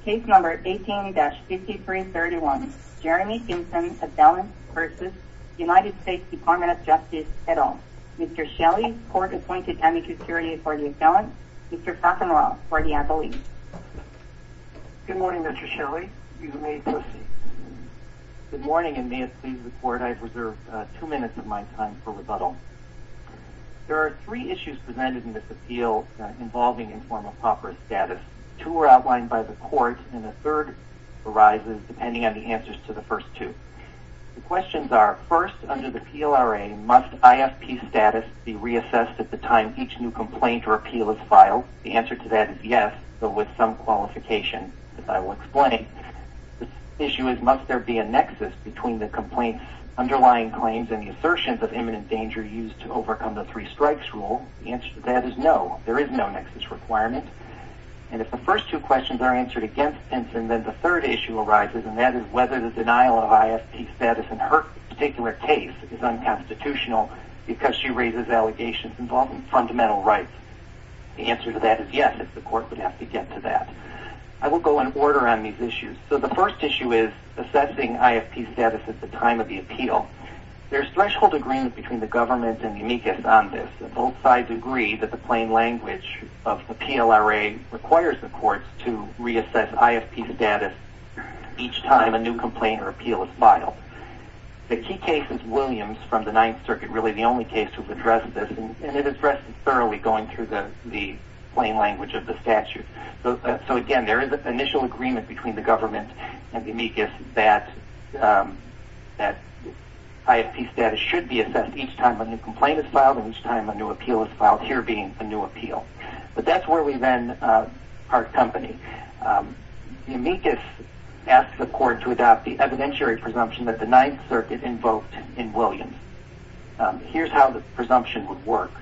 Department of Justice. Case number 18-5331. Jeremy Pinson, assailant v. United States Department of Justice et al. Mr. Shelley, court-appointed amicus curiae for the assailant. Mr. Crockenwell for the appellee. Good morning, Mr. Shelley. You may proceed. Good morning, and may it please the court, I have reserved two minutes of my time for rebuttal. There are three issues presented in this appeal involving informal copper status. Two were outlined by the court, and a third arises depending on the answers to the first two. The questions are, first, under the PLRA, must IFP status be reassessed at the time each new complaint or appeal is filed? The answer to that is yes, but with some qualification, as I will explain. The issue is, must there be a nexus between the complaint's underlying claims and the assertions of imminent danger used to overcome the three strikes rule? The answer to that is no. There is no nexus requirement. And if the first two questions are answered against Pinson, then the third issue arises, and that is whether the denial of IFP status in her particular case is unconstitutional because she raises allegations involving fundamental rights. The answer to that is yes, if the court would have to get to that. I will go in order on these issues. So the first issue is assessing IFP status at the time of the appeal. There is threshold agreement between the government and the amicus on this. Both sides agree that the plain language of the PLRA requires the courts to reassess IFP status each time a new complaint or appeal is filed. The key case is Williams from the Ninth Circuit, really the only case who has addressed this, and it is addressed thoroughly going through the plain language of the statute. So again, there is an initial agreement between the government and amicus that IFP status should be assessed each time a new complaint is filed and each time a new appeal is filed, here being a new appeal. But that is where we run our company. The amicus asks the court to adopt the evidentiary presumption that the Ninth Circuit invoked in Williams. Here is how the presumption would work.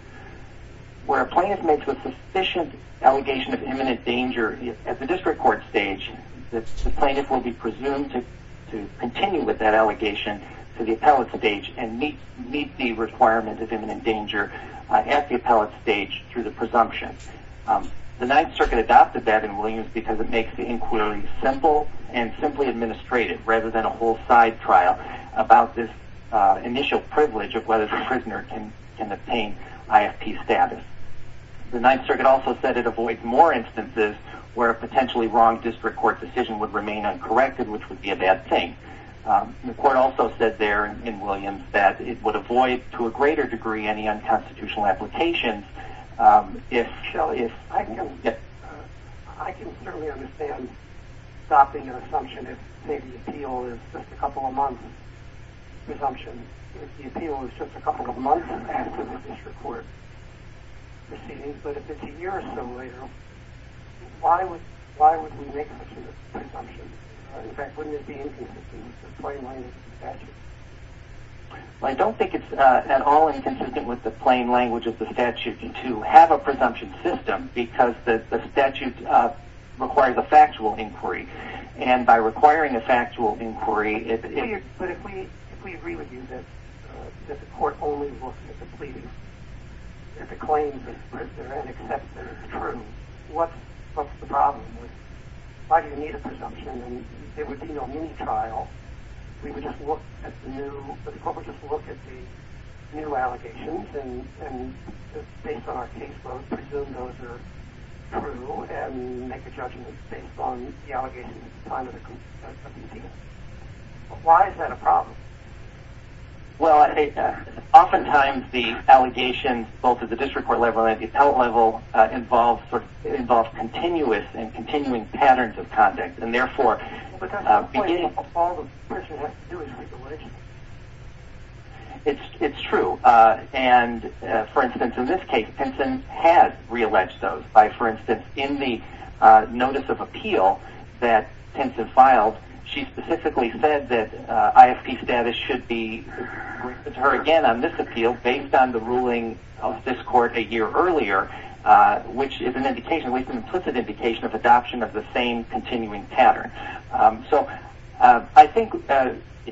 Where a plaintiff makes a sufficient allegation of imminent danger at the district court stage, the plaintiff will be presumed to continue with that allegation to the appellate stage and meet the requirement of imminent danger at the appellate stage through the presumption. The Ninth Circuit adopted that in Williams because it makes the inquiry simple and simply administrative rather than a whole side trial about this initial privilege of whether the prisoner can obtain IFP status. The Ninth Circuit also said it avoids more instances where a potentially wrong district court decision would remain uncorrected, which would be a bad thing. The court also said there in Williams that it would avoid to a greater degree any unconstitutional applications if... I don't think it's at all inconsistent with the plain language of the statute to have a presumption system because the statute requires a factual inquiry and by requiring a factual inquiry... But if we agree with you that the court only looks at the claims of the prisoner and accepts that it's true, what's the problem? Why do you need a presumption when there would be no need to trial? The court would just look at the new allegations and based on our casework, presume those are true and make a judgment based on the allegations at the time of the conviction. Why is that a problem? Well, oftentimes the allegations both at the district court level and at the appellate level involve continuous and continuing patterns of context and therefore... But that's the question that all the prisoners have to do is re-allege. It's true. For instance, in this case, Pinson has re-alleged those. For instance, in the notice of appeal that Pinson filed, she specifically said that ISP status should be referred again on this appeal based on the ruling of this court a year earlier, which is an implicit indication of adoption of the same continuing pattern. I think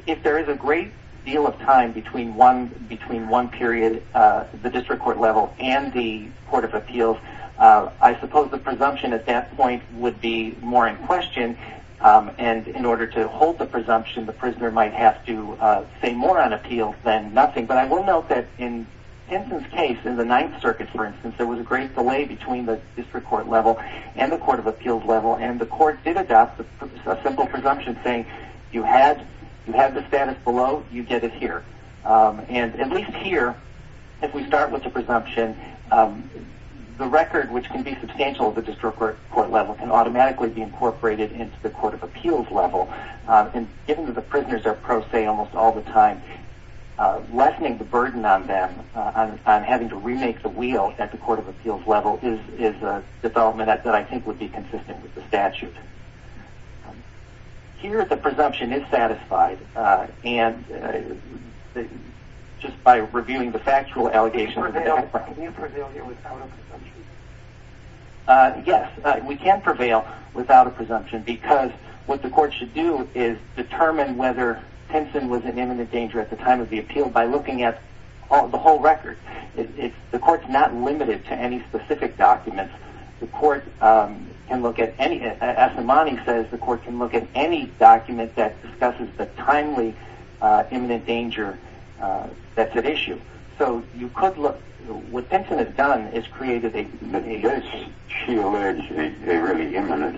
if there is a great deal of time between one period at the district court level and the court of appeals, I suppose the presumption at that point would be more in question. In order to hold the presumption, the prisoner might have to say more on appeals than nothing. But I will note that in Pinson's case, in the Ninth Circuit for instance, there was a great delay between the district court level and the court of appeals level and the court did adopt a simple presumption saying, If you had the status below, you did it here. And at least here, if we start with the presumption, the record which can be substantial at the district court level can automatically be incorporated into the court of appeals level. And given that the prisoners are pro se almost all the time, lessening the burden on them on having to remake the wheel at the court of appeals level is a development that I think would be consistent with the statute. Here, the presumption is satisfied, just by reviewing the factual allegations. Can you prevail without a presumption? Yes, we can prevail without a presumption because what the court should do is determine whether Pinson was in imminent danger at the time of the appeal by looking at the whole record. The court is not limited to any specific document. The court can look at any, as Imani says, the court can look at any document that discusses the timely imminent danger that's at issue. So you could look, what Pinson has done is created a... Is it imminent?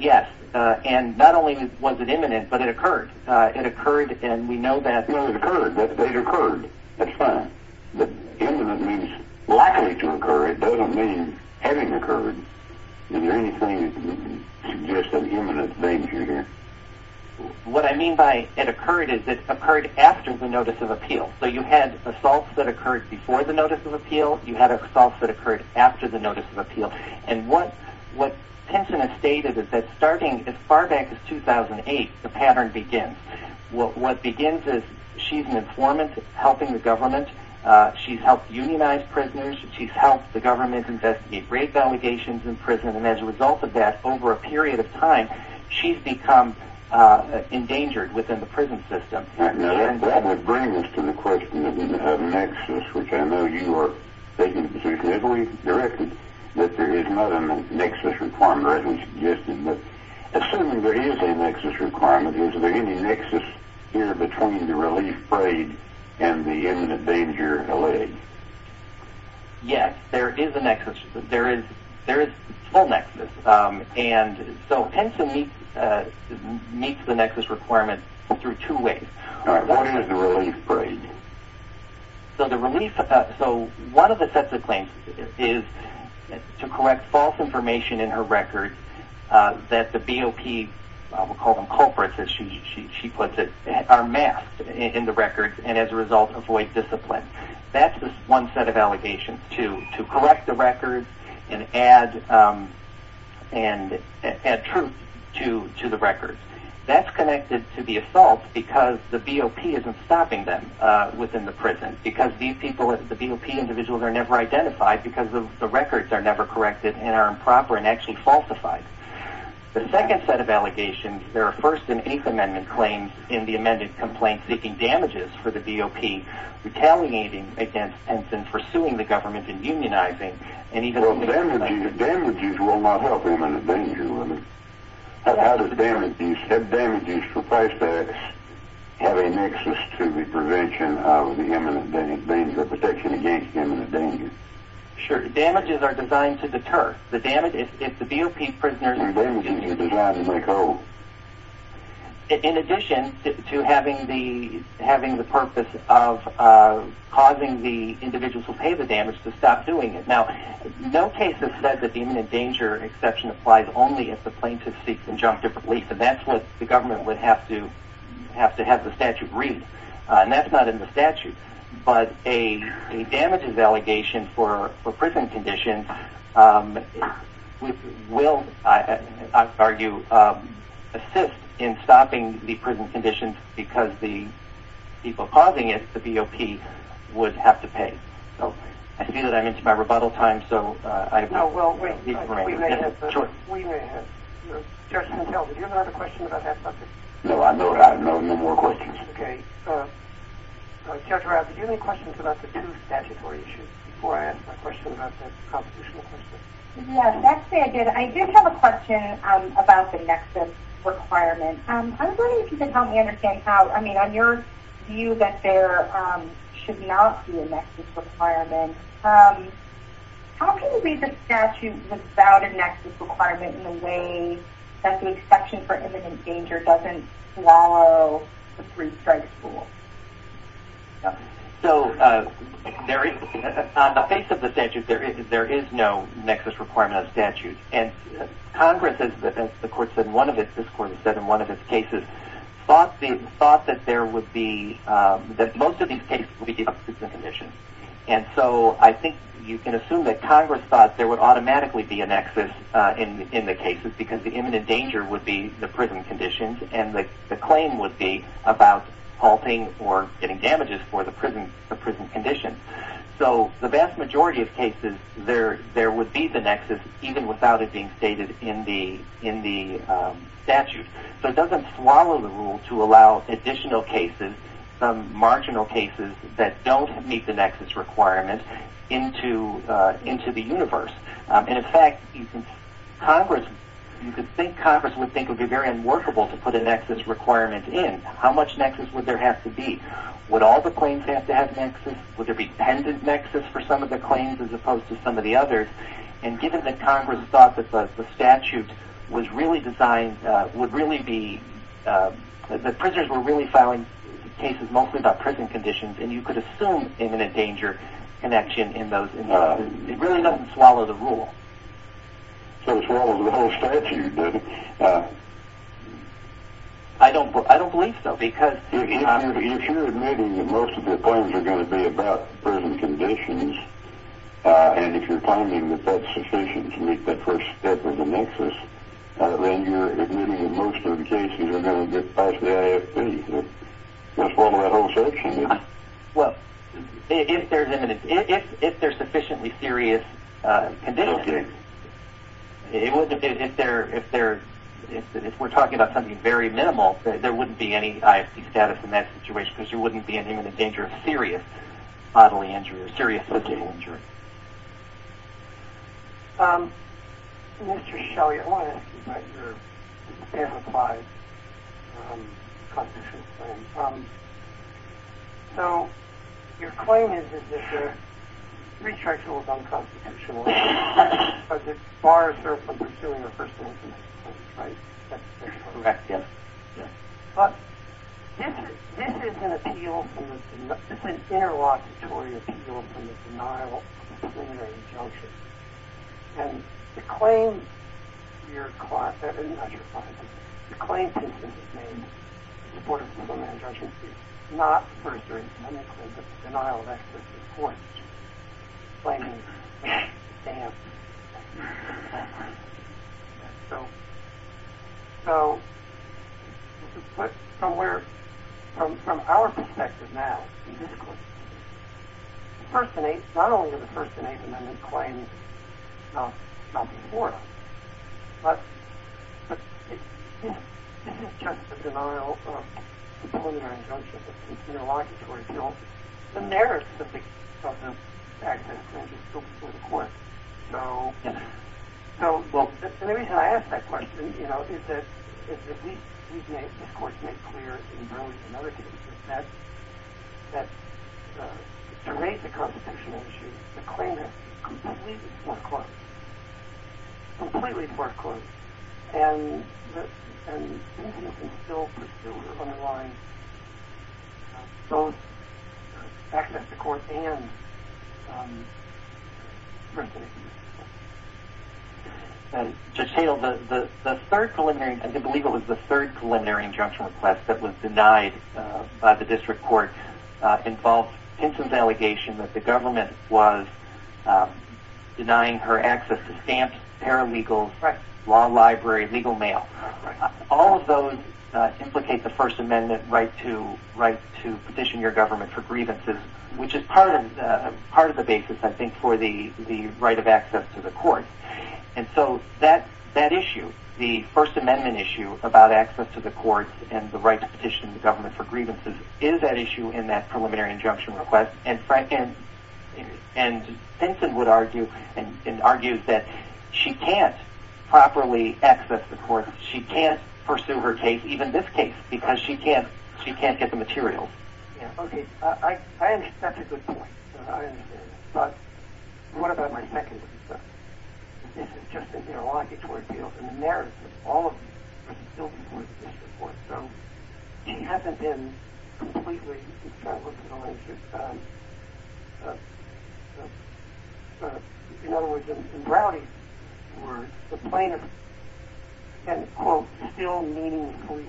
Yes, and not only was it imminent, but it occurred. It occurred, and we know that... No, it occurred, that it occurred. That's fine. But imminent means likely to occur. It doesn't mean having occurred. Is there anything that would suggest an imminent danger here? What I mean by it occurred is it occurred after the notice of appeal. So you had assaults that occurred before the notice of appeal. You had assaults that occurred after the notice of appeal. And what Pinson has stated is that starting as far back as 2008, the pattern begins. What begins is she's an informant helping the government. She's helped unionize prisoners. She's helped the government investigate rape allegations in prison. And as a result of that, over a period of time, she's become endangered within the prison system. Now, that would bring us to the question of whether you have a nexus, which I know you are taking positively directly, that there is not a nexus requirement, rather than suggesting that assuming there is a nexus requirement, is there any nexus here between the relief raid and the imminent danger allayed? Yes, there is a nexus. There is full nexus. And so Pinson meets the nexus requirement through two ways. One is the relief raid. So one of the sets of claims is to collect false information in her record that the BOP, we'll call them culprits as she puts it, are masked in the records and as a result avoid discipline. That's one set of allegations, to correct the records and add truth to the records. That's connected to the assault because the BOP isn't stopping them within the prison, because these people, the BOP individuals are never identified because the records are never corrected and are improper and actually falsified. The second set of allegations, there are first and eighth amendment claims in the amended complaint for the BOP retaliating against Pinson, pursuing the government and unionizing. Well, damages will not help imminent danger women. How does damages for price tags have a nexus to the prevention of the imminent danger, the protection against the imminent danger? Sure, damages are designed to deter. If the BOP prisoners... And damages are designed to make a hole. In addition to having the purpose of causing the individuals who pay the damage to stop doing it. Now, no case has said that the imminent danger exception applies only if the plaintiff seeks conjunctive relief, and that's what the government would have to have the statute read, but a damages allegation for prison conditions will, I would argue, assist in stopping the prison conditions because the people causing it, the BOP, would have to pay. I see that I'm into my rebuttal time, so I... No, well, wait, we may have... Sure. We may have... Judge Montiel, did you have another question about that subject? No, I don't have any more questions. Okay. Judge Rafferty, do you have any questions about the two statutory issues? Before I ask my question about that constitutional question. Yeah, that's very good. I do have a question about the nexus requirement. I was wondering if you could help me understand how, I mean, on your view that there should not be a nexus requirement, how can you read the statute without a nexus requirement in a way that the exception for imminent danger doesn't swallow the three-step rule? So, on the face of the statute, there is no nexus requirement of statute, and Congress, as the court said, one of its, this court has said in one of its cases, thought that there would be, that most of these cases would be given prison conditions, and so I think you can assume that Congress thought there would automatically be a nexus in the cases because the imminent danger would be the prison conditions, and the claim would be about halting or getting damages for the prison conditions. So, the vast majority of cases, there would be the nexus even without it being stated in the statute. So, it doesn't swallow the rule to allow additional cases, some marginal cases that don't meet the nexus requirement into the universe. And, in fact, you can think Congress would think it would be very unworkable to put a nexus requirement in. How much nexus would there have to be? Would all the claims have to have nexus? Would there be dependent nexus for some of the claims as opposed to some of the others? And, given that Congress thought that the statute was really designed, would really be, the prisoners were really filing cases mostly about prison conditions, and you could assume an imminent danger connection in those. It really doesn't swallow the rule. So, it swallows the whole statute. I don't believe so because. If you're admitting that most of the claims are going to be about prison conditions, and if you're finding that that's sufficient to meet the first step of the nexus, then you're admitting that most of the cases are going to get passed the IFP. It doesn't swallow that whole section. Well, if there's sufficiently serious conditions, if we're talking about something very minimal, there wouldn't be any ISP status in that situation because you wouldn't be in any danger of serious bodily injury, if there's serious bodily injury. Mr. Shelley, I want to ask you about your amplified constitutional claim. So, your claim is that the rechargeable is unconstitutional, but it bars her from pursuing the first amendment, right? Correct, yes. But, this is an appeal, this is an interlocutory appeal for the denial of preliminary charges. And the claim, your clause, not your clause, the claim consists of stating that the Board of People, Managers, and Judges did not pursue or administer the denial of extra charges court, and that the Board of People, Managers, and Judges did not pursue or administer the denial of extra charges. So, from our perspective now, the first amendment, not only is the first amendment a claim, but it is a denial of preliminary charges. It's an interlocutory appeal. And there are specific substantive actions that go before the court. So, the reason I ask that question, you know, is that we can, of course, make clear in those and other cases that the rate of compensation issues, the claim is completely foreclosed. Completely foreclosed. And we can still pursue it from the line of both access to court and first amendment. The third preliminary injunction request that was denied by the district court involved Pinson's allegation that the government was denying her access to stamps, paralegals, law library, legal mail. All of those implicate the first amendment right to petition your government for grievances, which is part of the basis, I think, for the right of access to the court. And so, that issue, the first amendment issue about access to the court and the right to petition the government for grievances, is an issue in that preliminary injunction request. And Pinson would argue and argued that she can't properly access the court. She can't pursue her case, even this case, because she can't get the materials. Okay. I understand your good point. I understand it. But what about my second question? This is just an interlocutory field. In the narrative, all of you have spoken to this before. So, she hasn't been completely, as far as I'm aware, in other words, in reality, the plaintiff has, quote, still meaningfully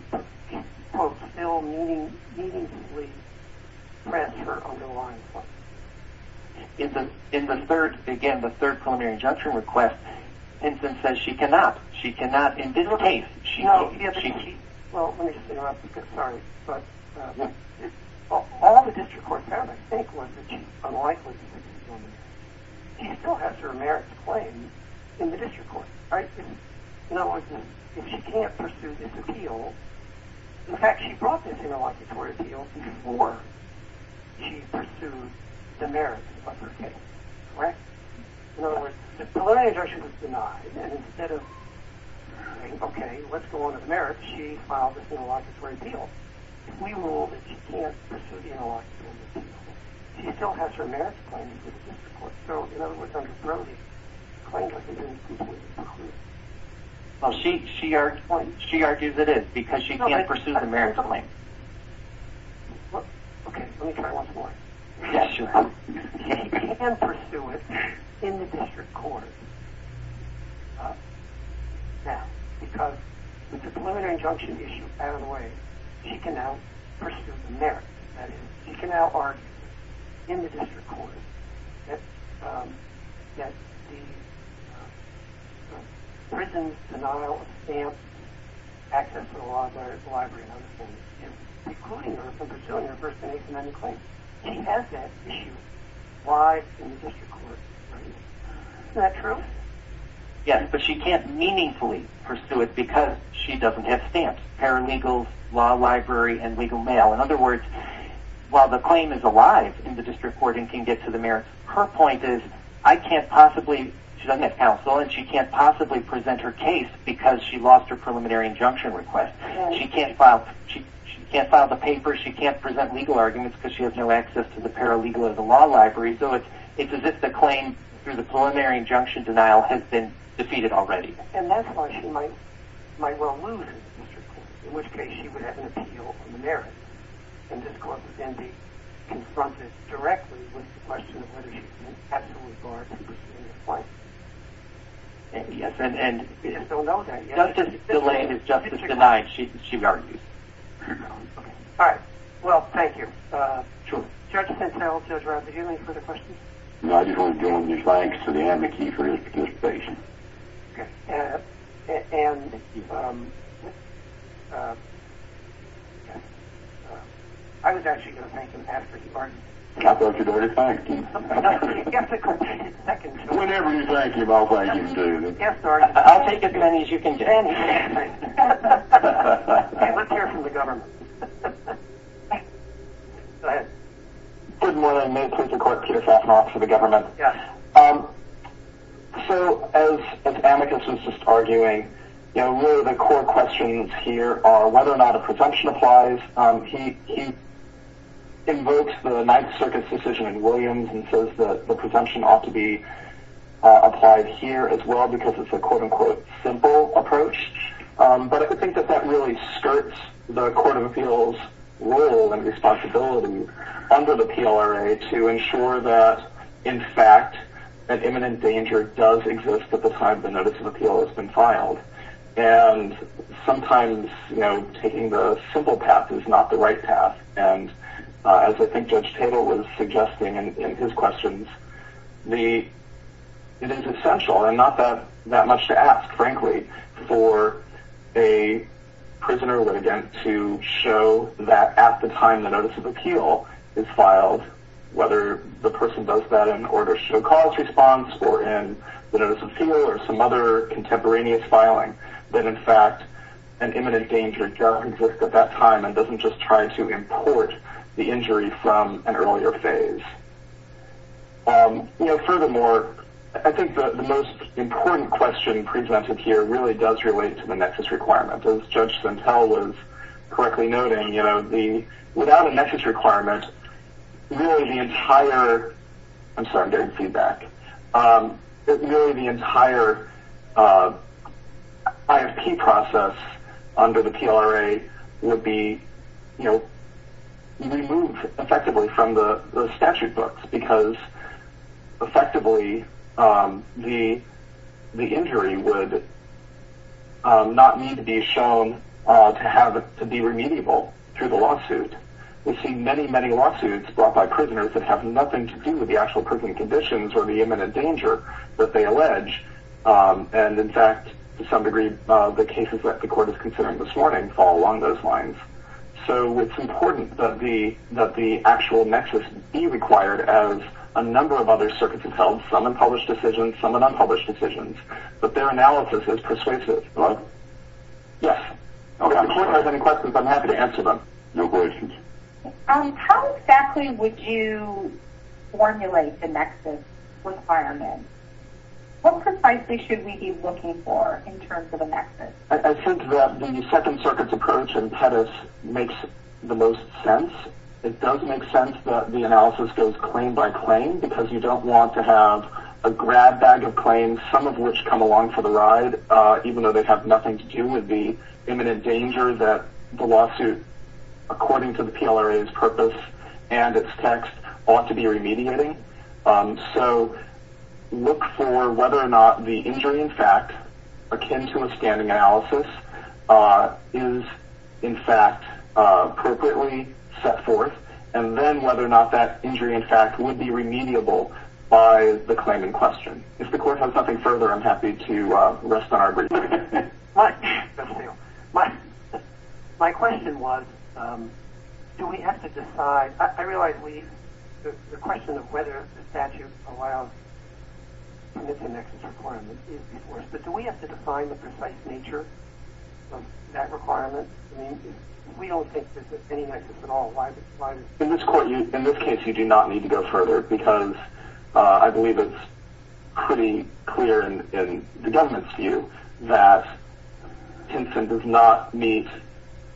pressed her on the line. In the third, again, the third preliminary injunction request, Pinson says she cannot. She cannot. In this case, she can't. Well, let me just, you know, I'm sorry, but all the district courts found, I think, was that she's unlikely to be detained. She still has her merits to claim in the district court, right? In other words, if she can't pursue this appeal, in fact, she brought this interlocutory appeal before she pursued the merits of her case, right? In other words, the preliminary injunction was denied. Okay, let's go on to the merits. She filed this interlocutory appeal. We rule that she can't pursue the interlocutory appeal. She still has her merits to claim in the district court. So, in other words, I'm sorry, the plaintiff has been detained. Well, she argues it is because she can't pursue the merits of the claim. Okay, let me try one more. Yes, sure. She can pursue it in the district court now because the preliminary injunction issue is out of the way. She can now pursue the merits. She can now argue in the district court that the prison, denial, stamp, access to the law, letters, library, and other things, including her pursuing her First Amendment claim, she has that issue. Why in the district court? Is that true? Yes, but she can't meaningfully pursue it because she doesn't have stamps, paralegals, law library, and legal mail. In other words, while the claim is alive in the district court and can get to the merits, her point is, I can't possibly, she doesn't have counsel, and she can't possibly present her case because she lost her preliminary injunction request. She can't file the papers. She can't present legal arguments because she has no access to the paralegal and the law library. So it's as if the claim through the preliminary injunction denial has been defeated already. And that's why she might well lose the district court, in which case she would have an appeal from the merits, and this cause would then be confronted directly with the question of whether she's been absolutely barred from pursuing her claim. Yes, and justice delayed is justice denied, she would argue. All right. Well, thank you. Sure. Judge Pintel, Judge Roth, do you have any further questions? No, I just want to give my thanks to Dan McKee for his patience. Okay. And I was actually going to thank him after the argument. I thought you were going to thank him. Yes, I could. Whenever you thank him, I'll thank him too. Yes, sir. I'll take as many as you can take. We're here for the government. Go ahead. Good morning. May it please the Court, Peter Fafnock for the government. Yes. So as Amicus was just arguing, really the core questions here are whether or not a presumption applies. He invokes the Ninth Circuit's decision in Williams and says that the presumption ought to be applied here as well because it's a, quote-unquote, simple approach. But I think that that really skirts the Court of Appeals' role and responsibility under the PLRA to ensure that, in fact, an imminent danger does exist at the time the notice of appeal has been filed. And sometimes, you know, taking the simple path is not the right path. And as I think Judge Tatel was suggesting in his questions, it is essential, and not that much to ask, frankly, for a prisoner legate to show that at the time the notice of appeal is filed, whether the person does that in order to show cause response or in the notice of appeal or some other contemporaneous filing, that, in fact, an imminent danger does exist at that time and doesn't just try to import the injury from an earlier phase. You know, furthermore, I think the most important question presented here really does relate to the nexus requirement. As Judge Santel was correctly noting, you know, without a nexus requirement, really the entire IFP process under the PLRA would be, you know, removed effectively from the statute books, because effectively the injury would not need to be shown to be remediable through the lawsuit. We've seen many, many lawsuits brought by prisoners that have nothing to do with the actual prison conditions or the imminent danger that they allege. And, in fact, to some degree, the cases that the court is considering this morning fall along those lines. So it's important that the actual nexus be required as a number of other circuits of health, some in published decisions, some in unpublished decisions. But their analysis is persuasive. Yes? If the court has any questions, I'm happy to answer them. You're welcome. How exactly would you formulate the nexus requirement? What precisely should we be looking for in terms of a nexus? I think that the Second Circuit's approach in Pettis makes the most sense. It does make sense that the analysis goes claim by claim, because you don't want to have a grab bag of claims, some of which come along for the ride, even though they have nothing to do with the imminent danger that the lawsuit, according to the PLRA's purpose and its text, ought to be remediating. So look for whether or not the injury, in fact, akin to a standing analysis, is, in fact, appropriately set forth, and then whether or not that injury, in fact, would be remediable by the claim in question. If the court has something further, I'm happy to restate our agreement. My question was, do we have to decide? I realize the question of whether the statute allows missing nexus requirements is divorced, but do we have to define the precise nature of that requirement? We don't think that there's any nexus at all. In this case, you do not need to go further, because I believe it's pretty clear in the government's view that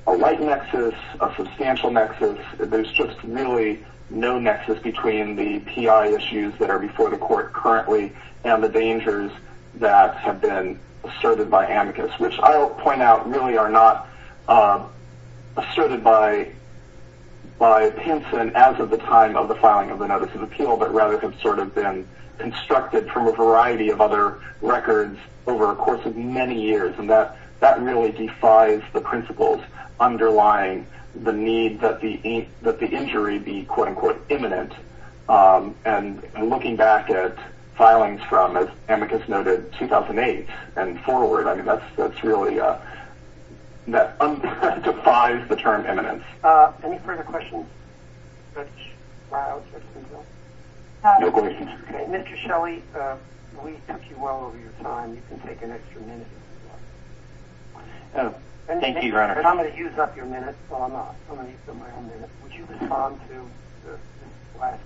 a light nexus, a substantial nexus, there's just really no nexus between the PI issues that are before the court currently and the dangers that have been asserted by amicus, which I'll point out really are not asserted by Pinson as of the time of the filing of the notice of appeal, but rather have sort of been constructed from a variety of other records over a course of many years. That really defies the principles underlying the need that the injury be quote-unquote imminent. And looking back at filings from, as amicus noted, 2008 and forward, that really defies the term imminent. Any further questions? Mr. Shelley, we took you well over your time. You can take an extra minute if you want. Thank you, Your Honor. I'm going to use up your minutes, so I'm going to use up my own minutes. Would you respond to the last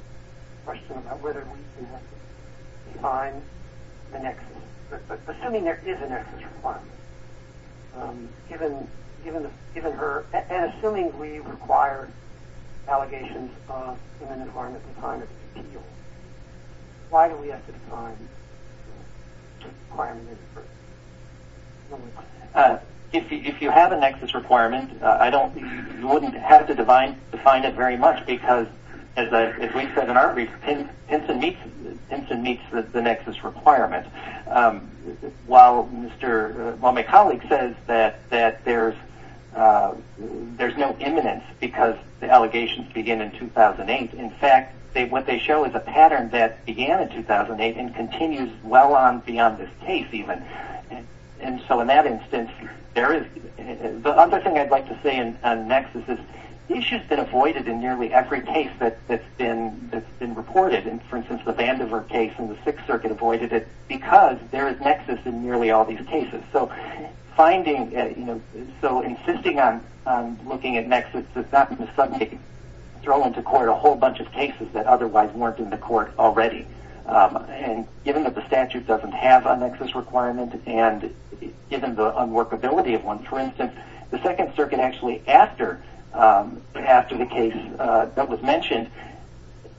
question about whether we can define a nexus, assuming there is a nexus requirement, given her, and assuming we require allegations of imminent harm at the time of the appeal? Why do we have to define the requirement? If you have a nexus requirement, I don't, you wouldn't have to define it very much because, as we said in our case, Pinson meets the nexus requirement. While my colleague says that there's no imminence because the allegations begin in 2008, in fact, what they show is a pattern that began in 2008 and continues well on beyond this case even. And so in that instance, there is. The other thing I'd like to say on nexus is, this has been avoided in nearly every case that's been reported. For instance, the Vandiver case in the Sixth Circuit avoided it because there is nexus in nearly all these cases. So insisting on looking at nexus does not mean suddenly throw into court a whole bunch of cases that otherwise weren't in the court already. Given that the statute doesn't have a nexus requirement and given the unworkability of one, for instance, the Second Circuit actually, after the case that was mentioned,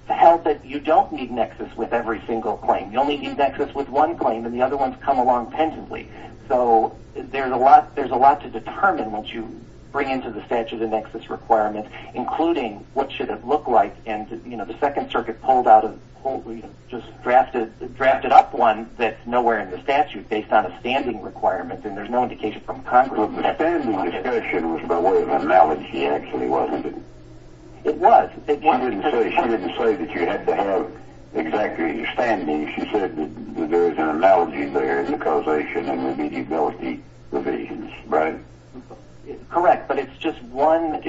held that you don't need nexus with every single claim. You only need nexus with one claim, and the other ones come along pendently. So there's a lot to determine once you bring into the statute a nexus requirement, including what should it look like. And, you know, the Second Circuit pulled out a, just drafted up one that's nowhere in the statute based on a standing requirement, and there's no indication from Congress. Well, the standing discussion was more of an analogy, actually, wasn't it? It was. She didn't say that you had to have exactly a standing. She said that there was an analogy there in causation and immediability provisions, right? Correct, but it's just one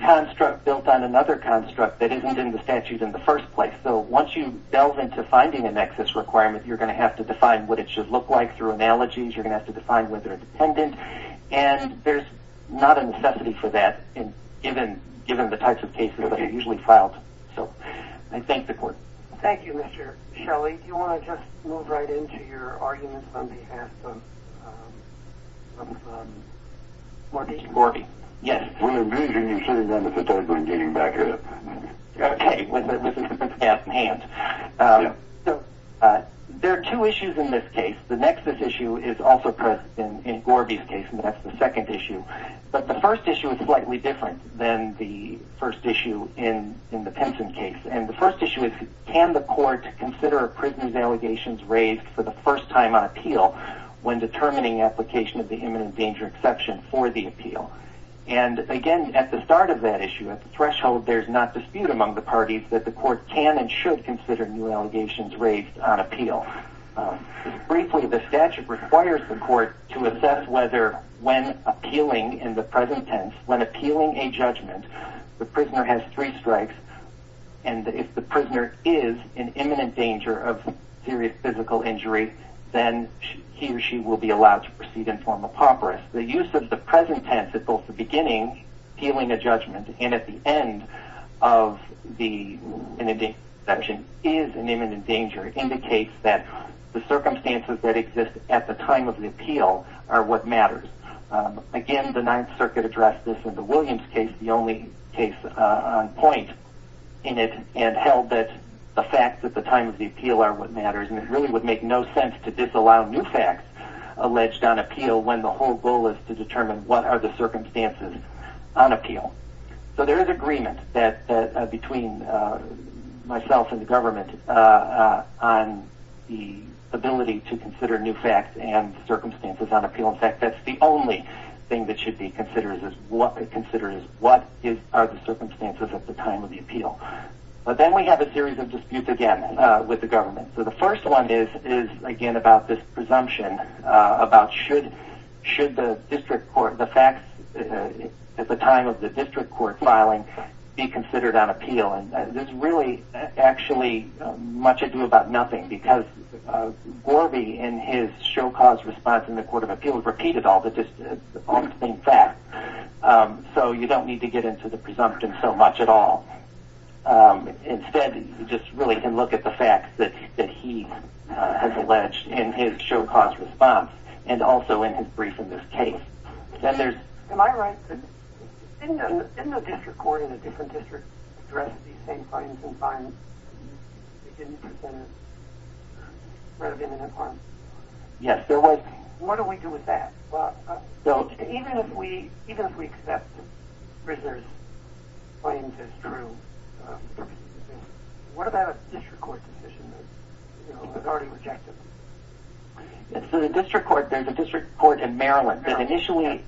construct built on another construct that isn't in the statute in the first place. So once you delve into finding a nexus requirement, you're going to have to define what it should look like through analogies. You're going to have to define whether it's dependent, and there's not a necessity for that given the types of cases that are usually filed. So I thank the court. Thank you, Mr. Shelley. Do you want to just move right into your arguments on behalf of Marty? Marty, yes. When you're busy, you should have done this before getting back here. Okay, with the staff in hand. There are two issues in this case. The nexus issue is also present in Gorby's case, and that's the second issue. But the first issue is slightly different than the first issue in the Pinson case, and the first issue is can the court consider a prisoner's allegations raised for the first time on appeal when determining application of the human danger exception for the appeal? And, again, at the start of that issue, at the threshold, there's not dispute among the parties that the court can and should consider new allegations raised on appeal. Briefly, the statute requires the court to assess whether when appealing in the present tense, when appealing a judgment, the prisoner has three strikes, and if the prisoner is in imminent danger of serious physical injury, then he or she will be allowed to proceed and form a papyrus. The use of the present tense at both the beginning, appealing a judgment, and at the end of the imminent danger exception is an imminent danger. It indicates that the circumstances that exist at the time of the appeal are what matters. Again, the Ninth Circuit addressed this in the Williams case, the only case on point in it, and held that the facts at the time of the appeal are what matters, and it really would make no sense to disallow new facts alleged on appeal when the whole goal is to determine what are the circumstances on appeal. So there is agreement between myself and the government on the ability to consider new facts and circumstances on appeal. In fact, that's the only thing that should be considered is what are the circumstances at the time of the appeal. But then we have a series of disputes again with the government. So the first one is, again, about this presumption about should the district court, the facts at the time of the district court filing be considered on appeal. And there's really actually much ado about nothing, because Gorby in his show-cause response in the Court of Appeals repeated all the distinct facts. So you don't need to get into the presumption so much at all. Instead, you just really can look at the facts that he has alleged in his show-cause response and also in his brief in this case. Am I right? Didn't the district court in the different districts address these same claims in fines? Yes, there was. What do we do with that? Even if we accept Frisner's claims as true, what about a district court decision that was already rejected? The district court in Maryland that initially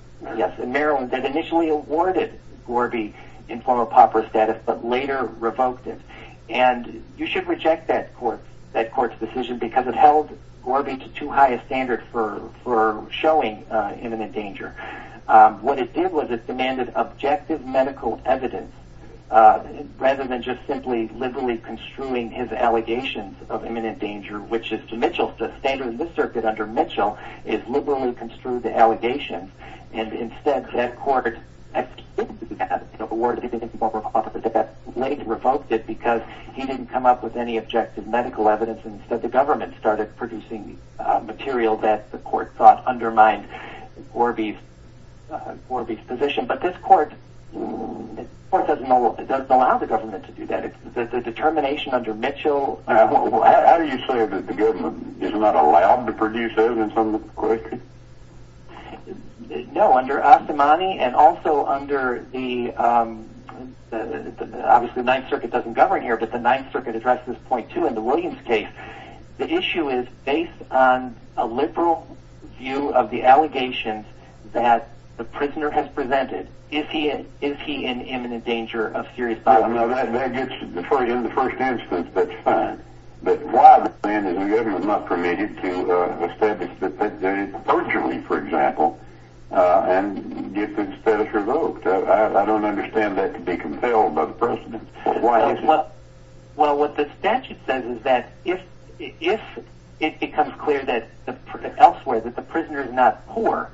awarded Gorby in form of pauper status but later revoked it, and you should reject that court's decision because it held Gorby to too high a standard for showing imminent danger. What it did was it demanded objective medical evidence rather than just simply liberally construing his allegations of imminent danger, which is to Mitchell. The standard in this circuit under Mitchell is liberally construed allegations, and instead that court, later revoked it because he didn't come up with any objective medical evidence and instead the government started producing material that the court thought undermined Gorby's position. But this court doesn't allow the government to do that. The determination under Mitchell... No, under Ostermann and also under the... Obviously the Ninth Circuit doesn't govern here, but the Ninth Circuit addresses this point too in the Williams case. The issue is based on a liberal view of the allegations that the prisoner has presented. Is he in imminent danger of serious violence? No, that gets to the point in the first instance that's fine. But why the plan that the government must remit it to the statutes that have been proposed to me, for example, and get the status revoked? I don't understand that to be compelled by the precedent. Why is it? Well, what the statute says is that if it becomes clear that elsewhere that the prisoner is not poor,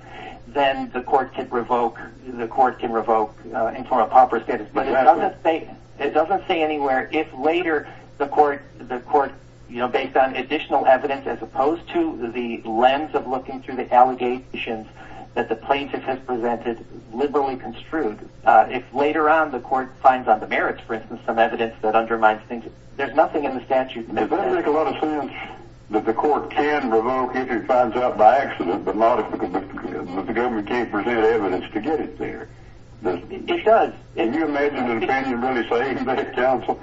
then the court can revoke and form a proper status. But it doesn't say anywhere if later the court, you know, based on additional evidence, as opposed to the lens of looking through the allegations that the plaintiff has presented, liberally construed. If later on the court finds on the merits, for instance, some evidence that undermines things, there's nothing in the statute. Does that make a lot of sense, that the court can revoke if he finds out by accident, but not if the government can't present evidence to get it there? It does. Can you imagine when Katie and Buddy say,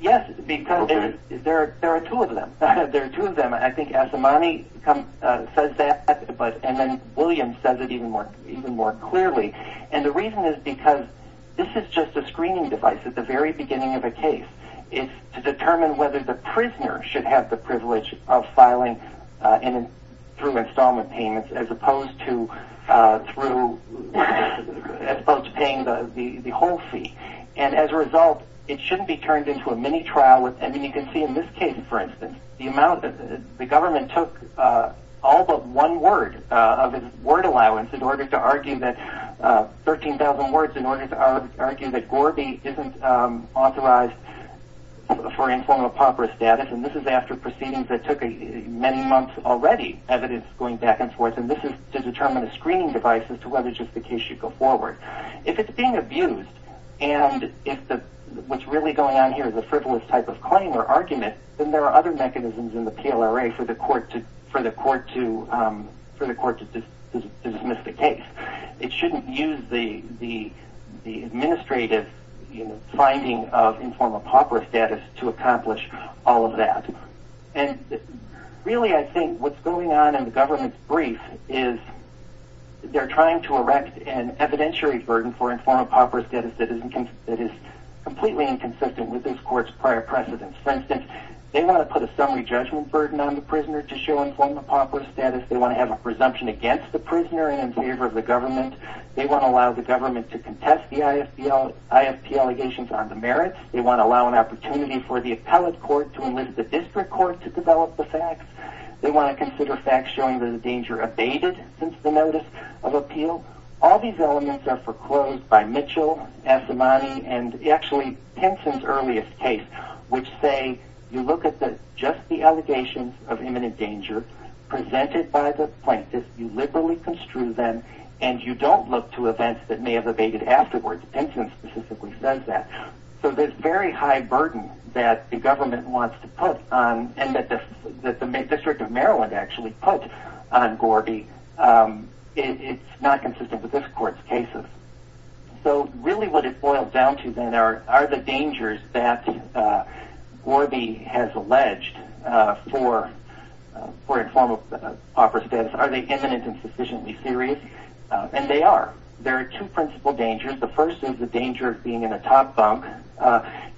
Yes, because there are two of them. There are two of them. I think Asimane says that, and then William says it even more clearly. And the reason is because this is just a screening device at the very beginning of a case. It's to determine whether the prisoner should have the privilege of filing through installment payments as opposed to paying the whole fee. And as a result, it shouldn't be turned into a mini-trial. And you can see in this case, for instance, the amount that the government took all but one word of his word allowance in order to argue that, 13,000 words in order to argue that Gorby isn't authorized for informal pauper status. And this is after proceedings that took many months already, evidence going back and forth. And this is to determine a screening device as to whether just the case should go forward. If it's being abused and if what's really going on here is a frivolous type of claim or argument, then there are other mechanisms in the PLRA for the court to dismiss the case. It shouldn't use the administrative finding of informal pauper status to accomplish all of that. And really I think what's going on in the government's brief is they're trying to erect an evidentiary burden for informal pauper status that is completely inconsistent with this court's prior precedence. For instance, they want to put a summary judgment burden on the prisoner to show informal pauper status. They want to have a presumption against the prisoner and in favor of the government. They want to allow the government to contest the ISP allegations on the merits. They want to allow an opportunity for the appellate court to enlist the district court to develop the facts. They want to consider facts showing that the danger abated since the notice of appeal. All these elements are foreclosed by Mitchell, Asimani, and actually Pinson's earliest case, which say you look at just the allegations of imminent danger presented by the plaintiff, you liberally construe them, and you don't look to events that may have abated afterwards. Pinson specifically says that. So this very high burden that the government wants to put and that the District of Maryland actually put on Gordy, it's not consistent with this court's cases. So really what it boils down to then are the dangers that Gordy has alleged for informal pauper status. Are they imminent and sufficiently serious? And they are. There are two principal dangers. The first is the danger of being in a top bunk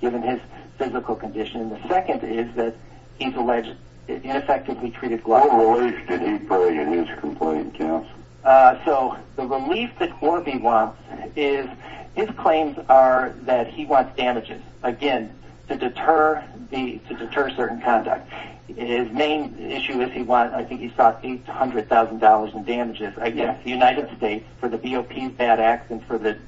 given his physical condition, and the second is that he's alleged ineffectively treated globally. What relief did he bring in his complaint? So the relief that Gordy wants is his claims are that he wants damages, again, to deter certain conduct. His main issue is he wants, I think he sought, $800,000 in damages against the United States for the DOP's bad act and for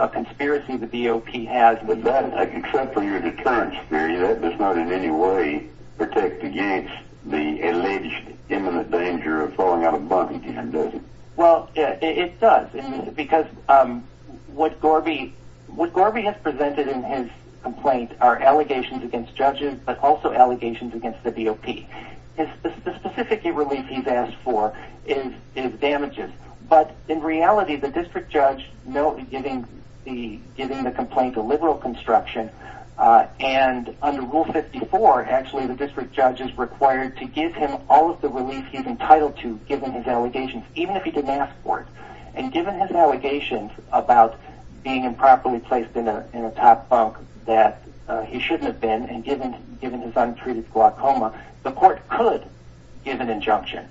a conspiracy the DOP has. But that, except for your deterrence period, that does not in any way protect against the alleged imminent danger of falling out of bunking, does it? Well, it does because what Gordy has presented in his complaint are allegations against judges but also allegations against the DOP. The specific relief he's asked for is damages, but in reality the district judge knowingly giving the complaint a liberal construction and under Rule 54 actually the district judge is required to give him all of the relief he's entitled to given his allegations, even if he didn't ask for it. And given his allegations about being improperly placed in a top bunk that he shouldn't have been and given his untreated glaucoma, the court could give an injunction.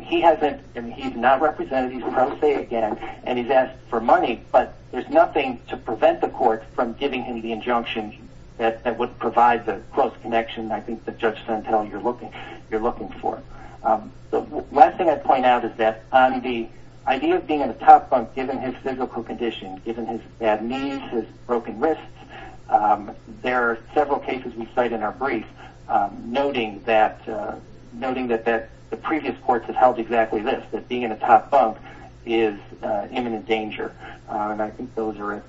He hasn't, I mean, he's not represented, he's pro se again, and he's asked for money, but there's nothing to prevent the court from giving him the injunction that would provide the close connection, I think, that Judge Suntell, you're looking for. The last thing I'd point out is that on the idea of being in a top bunk, given his physical condition, given his bad knees, his broken wrists, there are several cases we cite in our brief noting that the previous courts have held exactly this, that being in a top bunk is imminent danger. And I think those are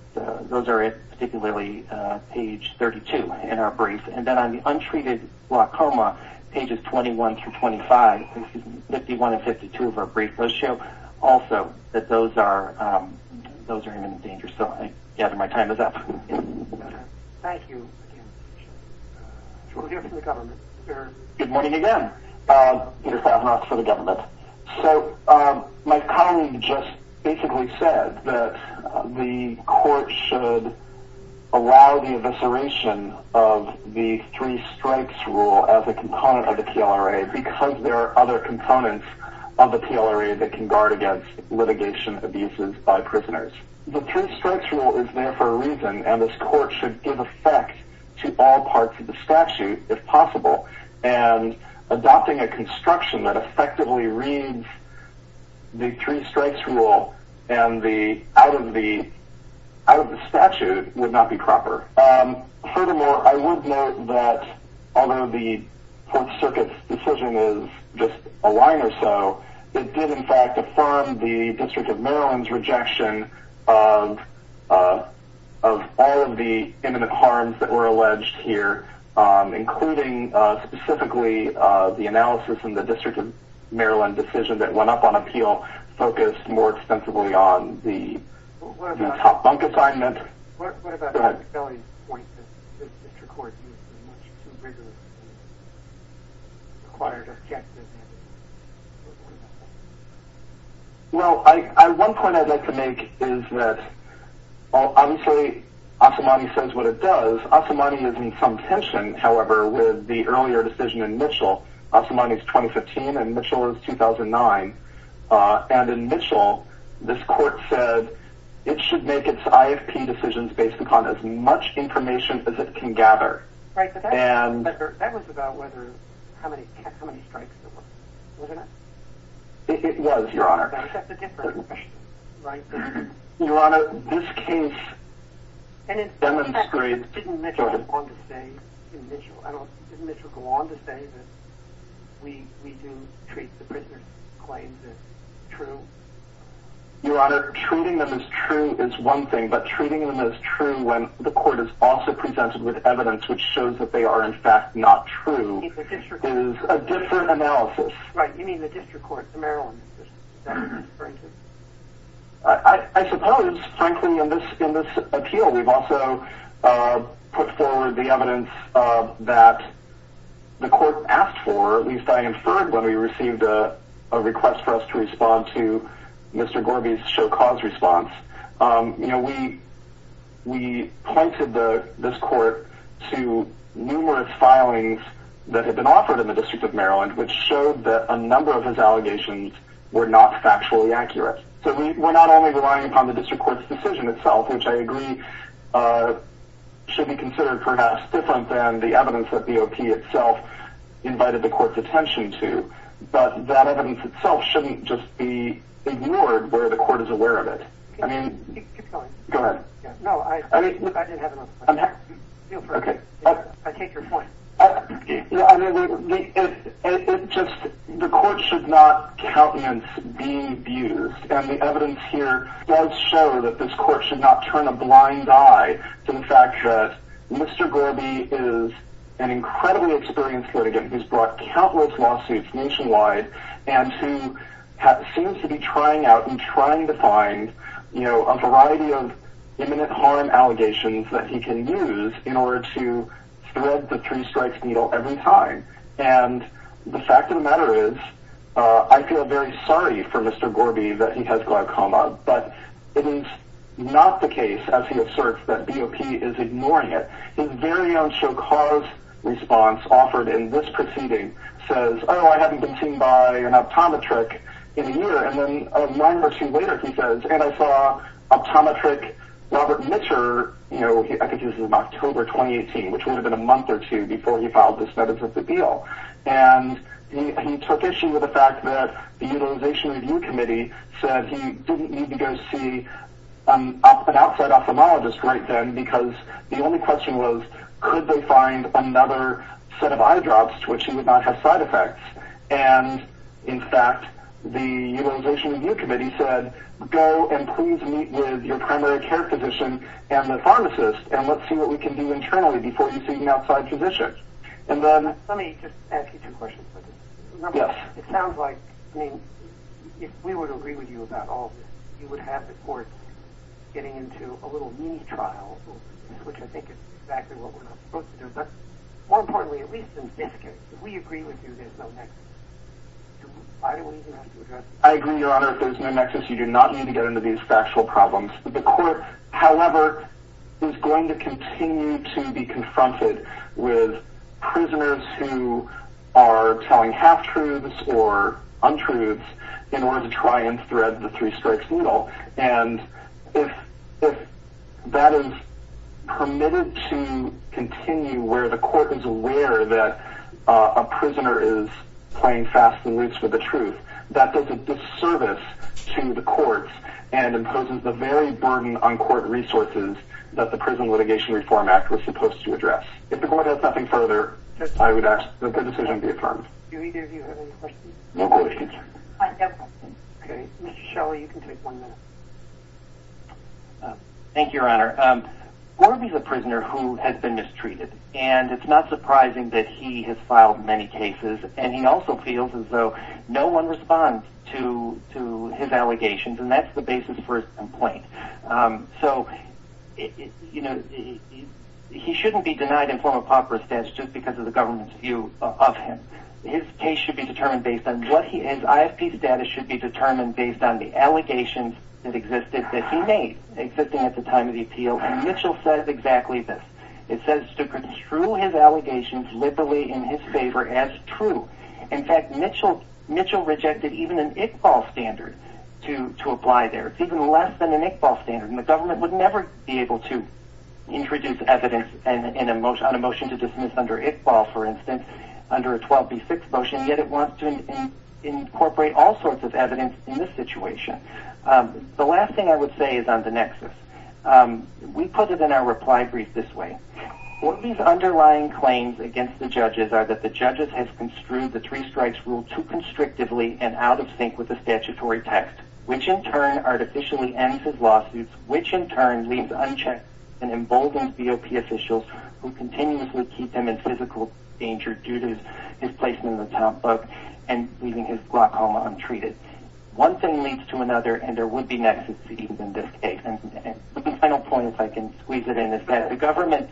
particularly page 32 in our brief. And then on the untreated glaucoma, pages 21 through 25, 51 and 52 of our brief notes show also that those are imminent danger. So I gather my time is up. Thank you. We'll hear from the government. Good morning again. Peter Savinoff for the government. So my colleague just basically said that the court should allow the evisceration of the three strikes rule as a component of the PLRA because there are other components of the PLRA that can guard against litigation abuses by prisoners. The three strikes rule is there for a reason, and this court should give effect to all parts of the statute if possible. And adopting a construction that effectively reads the three strikes rule out of the statute would not be proper. Furthermore, I would note that although the court circuit's decision is just a line or so, it did in fact affirm the District of Maryland's rejection of all of the imminent harms that were alleged here, including specifically the analysis in the District of Maryland decision that went up on appeal focused more extensively on the top bunk assignment. What about Patrick Kelly's point that this court is much too rigorous to acquire an objective? Well, one point I'd like to make is that obviously Asamani says what it does. Asamani is in some tension, however, with the earlier decision in Mitchell. Asamani is 2015 and Mitchell is 2009. And in Mitchell, this court said it should make its IFP decisions based upon as much information as it can gather. Right, but that was about how many strikes there were, wasn't it? It was, Your Honor. Except the difference, right? Your Honor, this case demonstrates... Your Honor, treating them as true is one thing, but treating them as true when the court is also presented with evidence which shows that they are in fact not true is a different analysis. I suppose, frankly, in this appeal we've also put forward the evidence that the court asked for, or at least I inferred when we received a request for us to respond to Mr. Gorby's show-cause response. You know, we pointed this court to numerous filings that had been offered in the District of Maryland which showed that a number of his allegations were not factually accurate. So we're not only relying upon the District Court's decision itself, which I agree should be considered perhaps different than the evidence that the O.P. itself invited the court's attention to, but that evidence itself shouldn't just be ignored where the court is aware of it. The court should not countenance being abused, and the evidence here does show that this court should not turn a blind eye to the fact that Mr. Gorby is an incredibly experienced litigant who's brought countless lawsuits nationwide, and who seems to be trying out and trying to find a variety of imminent harm allegations that he can use in order to thread the three-strikes needle every time. And the fact of the matter is, I feel very sorry for Mr. Gorby that he has glaucoma, but it is not the case, as he asserts, that B.O.P. is ignoring it. His very own show-cause response offered in this proceeding says, oh, I haven't been seen by an optometric in a year, and then a month or two later he says, and I saw optometric Robert Mitcher, you know, I think this was in October 2018, which would have been a month or two before he filed the status of the deal. And he took issue with the fact that the Utilization Review Committee said he didn't need to go see an outside ophthalmologist right then, because the only question was, could they find another set of eye drops to which he would not have side effects? And, in fact, the Utilization Review Committee said, go and please meet with your primary care physician and the pharmacist, and let's see what we can do internally before you see an outside physician. Let me just ask you two questions. Yes. It sounds like, I mean, if we were to agree with you about all of this, you would have the courts getting into a little knee trial, which I think is exactly what we're supposed to do. But more importantly, at least in this case, if we agree with you there's no nexus, why do we even have to address this? I agree, Your Honor, if there's no nexus, you do not need to get into these factual problems. The court, however, is going to continue to be confronted with prisoners who are telling half-truths or untruths in order to try and thread the three-stripes needle. And if that is permitted to continue where the court is aware that a prisoner is playing fast and loose with the truth, that does a disservice to the courts and imposes the very burden on court resources that the Prison Litigation Reform Act was supposed to address. If the court has nothing further, I would ask that the decision be affirmed. Do either of you have any questions? No questions. I have a question. Okay. Mr. Shelly, you can take one minute. Thank you, Your Honor. Gorby's a prisoner who has been mistreated, and it's not surprising that he has filed many cases, and he also feels as though no one responds to his allegations, and that's the basis for his complaint. So, you know, he shouldn't be denied a form of pauper status just because of the government's view of him. His case should be determined based on what he is. ISP's data should be determined based on the allegations that existed that he made, existing at the time of the appeal, and Mitchell says exactly this. It says to construe his allegations liberally in his favor as true. In fact, Mitchell rejected even an Iqbal standard to apply there, even less than an Iqbal standard, and the government would never be able to introduce evidence on a motion to dismiss under Iqbal, for instance, under a 12B6 motion, yet it wants to incorporate all sorts of evidence in this situation. The last thing I would say is on the nexus. We put it in our reply brief this way. What these underlying claims against the judges are that the judges have construed the three strikes rule too constrictively and out of sync with the statutory text, which in turn artificially ends his lawsuits, which in turn leaves unchecked and emboldened DOP officials who continuously keep him in physical danger due to his placement in the town book and leaving his block home untreated. One thing leads to another, and there would be nexuses in this case. The final point, if I can squeeze it in, is that the government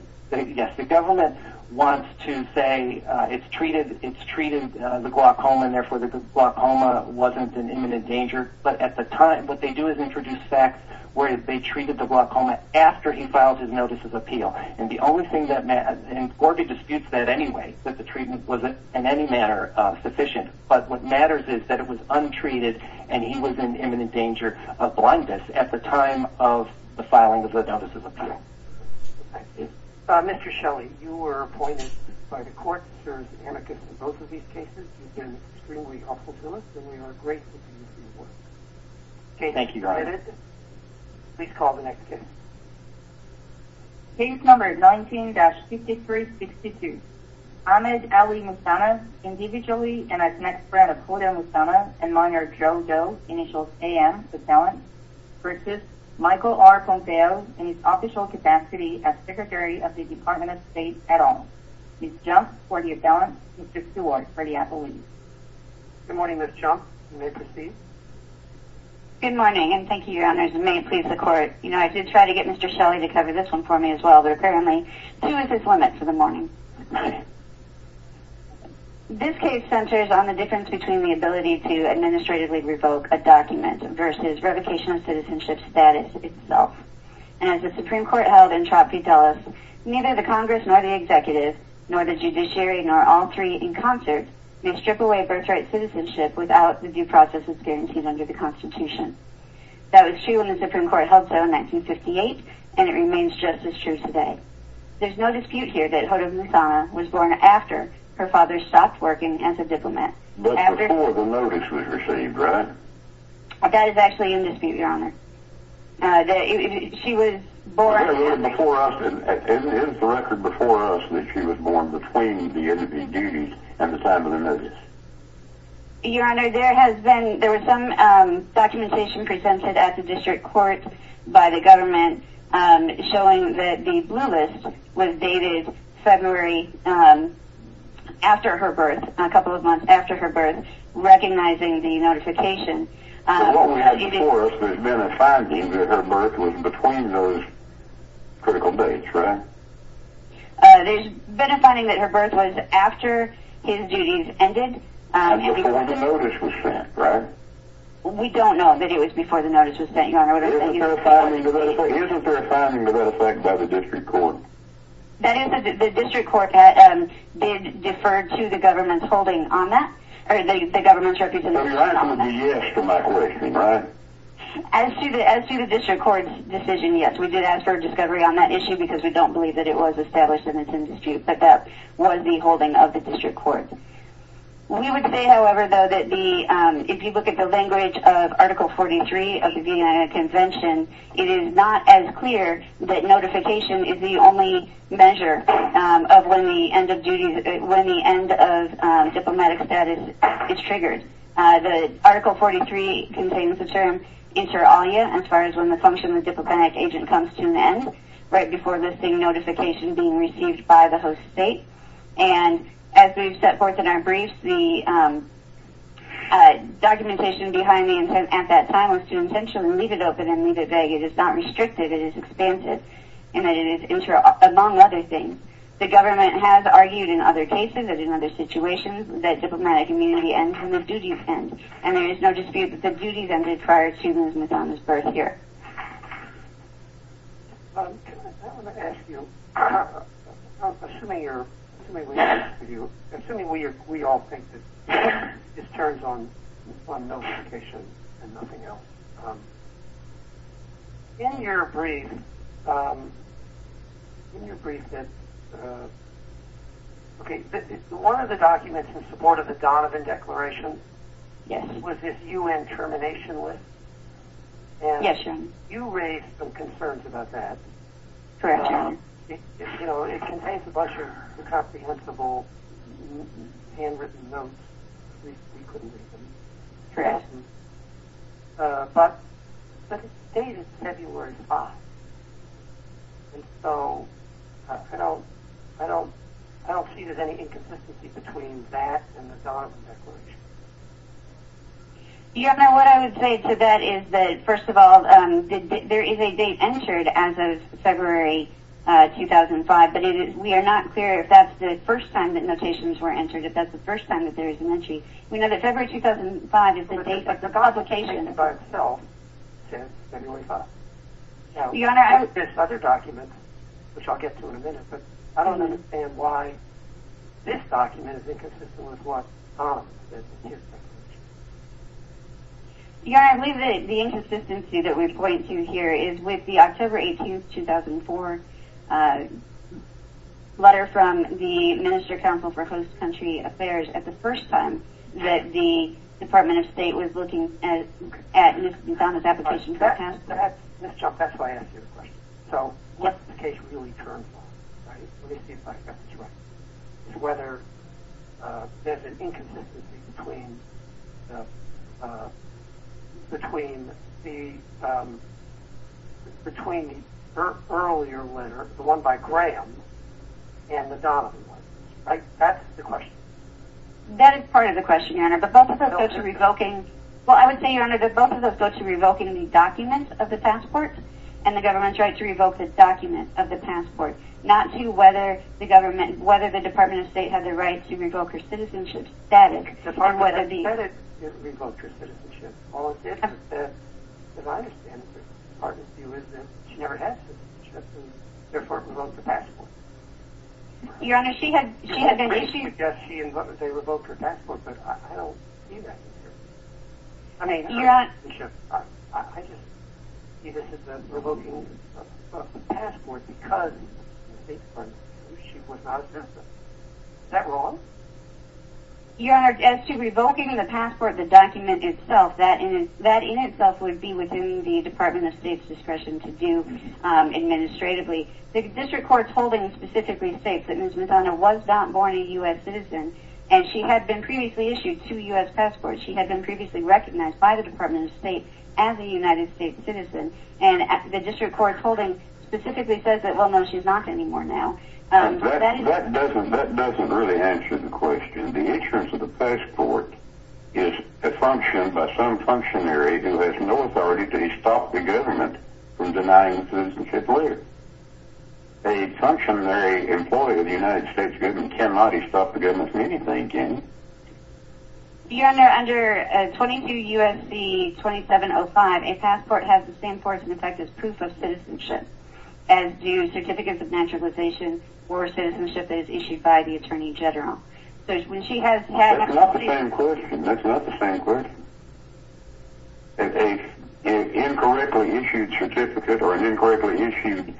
wants to say it's treated the block home and therefore the block home wasn't in imminent danger, but at the time what they do is introduce facts where they treated the block home after he filed his notices of appeal, and the only thing that matters, and Gorka disputes that anyway, that the treatment wasn't in any manner sufficient, but what matters is that it was untreated and he was in imminent danger of blindness at the time of the filing of the notices of appeal. Mr. Shelley, you were appointed by the court to serve as an advocate for both of these cases. You've been extremely helpful to us, and we are grateful to you for your work. Thank you, Brian. Please call the next case. Case number 19-5362. Ahmed Ali Moussana, individually and as an ex-friend of Claudio Moussana and minor Joe Doe, initials A.M., the felon, versus Michael R. Ponteo in his official capacity as Secretary of the Department of State at all. Ms. Jones, for the felon, and Mr. Seward, for the appellee. Good morning, Ms. Jones. You may proceed. Good morning, and thank you, Your Honor. You may please record. You know, I did try to get Mr. Shelley to cover this one for me as well, but apparently he was at his limit for the morning. This case centers on the difference between the ability to administratively revoke a document versus revocation of citizenship status itself. And as the Supreme Court held in Trapp v. Dulles, neither the Congress nor the executive, nor the judiciary, nor all three in concert, may strip away birthright citizenship without the due process as guaranteed under the Constitution. That was true in the Supreme Court held so in 1958, and it remains just as true today. There's no dispute here that Hoda Moussana was born after her father stopped working as a diplomat. But before the notice was received, right? That is actually in dispute, Your Honor. Isn't it the record before us that she was born between the end of her duty and the time of the notice? Your Honor, there has been some documentation presented at the district court by the government showing that the blue list was dated February after her birth, a couple of months after her birth, recognizing the notification. It only has before us that it's been a finding that her birth was between those critical dates, right? There's been a finding that her birth was after his duties ended. And before the notice was sent, right? We don't know that it was before the notice was sent, Your Honor. Isn't there a finding to that effect by the district court? That is the district court that did defer to the government's holding on that, or the government's representation on that. But it's actually a yes to my question, right? As to the district court's decision, yes. We did ask for a discovery on that issue because we don't believe that it was established in the dispute, but that was the holding of the district court. We would say, however, though, that if you look at the language of Article 43 of the DNIA Convention, it is not as clear that notification is the only measure of when the end of diplomatic status is triggered. Article 43 contains the term inter alia, as far as when the function of diplomatic agent comes to an end, right before listing notification being received by the host state. And as we've set forth in our briefs, the documentation behind me at that time was to intentionally leave it open and leave it vague. It is not restricted. It is extensive. And it is inter alia, among other things. The government has argued in other cases and in other situations that diplomatic immunity ends when the duty's ended. And there is no dispute that the duty's ended prior to Ms. McDonough's birth year. I want to ask you, assuming we all think that this turns on notification and nothing else, in your brief, one of the documents in support of the Donovan Declaration was this U.N. termination list. Yes, sir. And you raised some concerns about that. Correct, sir. It contains a bunch of incomprehensible handwritten notes. Correct. But the date is February 5th. And so I don't see there's any inconsistency between that and the Donovan Declaration. You know, what I would say to that is that, first of all, there is a date entered as of February 2005, but we are not clear if that's the first time that notations were entered, if that's the first time that there is an entry. We know that February 2005 is the date of the God's location. It's February 5th. Now, there's other documents, which I'll get to in a minute, but I don't understand why this document is inconsistent with what's on this document. Yeah, I believe that the inconsistency that we point to here is with the October 18th, 2004, letter from the Minister of Council for Host Country Affairs at the first time that the Department of State was looking at Ms. Donovan's application for a task force. That's why I asked you the question. So what's the case really termed for? Let me see if I got this right. Whether there's an inconsistency between the earlier letter, the one by Graham, and the Donovan one. That's the question. That is part of the question, Your Honor, but both of those go to revoking the document of the passport, and the government's right to revoke this document of the passport, not to whether the Department of State has a right to revoke her citizenship status. The Department of State has a right to revoke her citizenship. All it says is that, as far as I understand it, the Department's view is that she never had citizenship, and therefore revoked the passport. Your Honor, she had an issue. I would guess she revoked her passport, but I don't see that. I mean, her citizenship. I just see this as revoking the passport because she was out of business. Is that wrong? Your Honor, as to revoking the passport, the document itself, that in itself would be within the Department of State's discretion to do administratively. The district court's holding specifically states that Ms. Madonna was not born a U.S. citizen, and she had been previously issued two U.S. passports. She had been previously recognized by the Department of State as a United States citizen, and the district court's holding specifically says that, well, no, she's not anymore now. That doesn't really answer the question. Your Honor, under 22 U.S.C. 2705, a passport has the same force and effect as proof of citizenship, as do certificates of naturalization or citizenship issued by the Attorney General. That's not the same question. That's not the same question. An incorrectly issued certificate or an incorrectly issued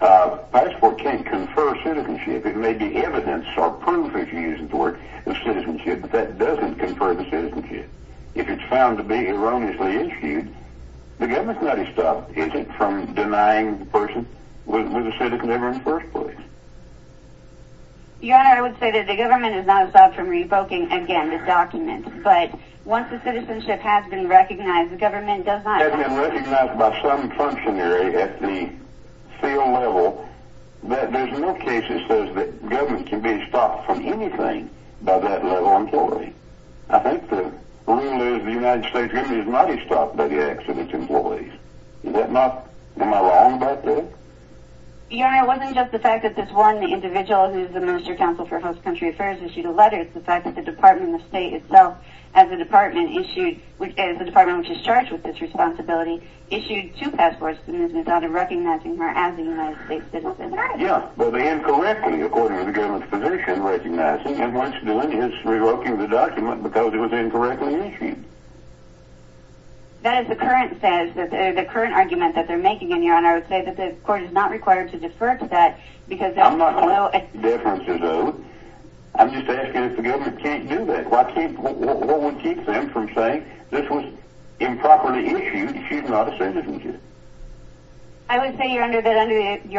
passport can't confer citizenship. It may be evidence or proof, if you use the word, of citizenship, but that doesn't confer the citizenship. If it's found to be erroneously issued, the administrative stuff isn't from denying the person was a citizen in the first place. Your Honor, I would say that the government is not exempt from revoking, again, the documents, but once the citizenship has been recognized, the government does not. Has been recognized by some functionary at the field level, but there's no case that says that government can be stopped from anything by that level of employee. I think the rule is the United States really has not been stopped by the excellent employees. Is that not, am I wrong about that? Your Honor, it wasn't just the fact that this one individual, who is the Minister of Counsel for House Country Affairs, issued a letter. It's the fact that the Department of State itself, as a department issued, as the department which is charged with this responsibility, issued two passports and is now recognizing her as a United States citizen. Yes, but incorrectly, according to the government's position, recognizing. And once again, it's revoking the document because it was incorrectly issued. That is the current argument that they're making, Your Honor. And I would say that the court is not required to defer to that because that would not allow it. I'm just asking if the government can't do that. What would keep them from saying this was improperly issued? She's not a citizen, is she? I would say, Your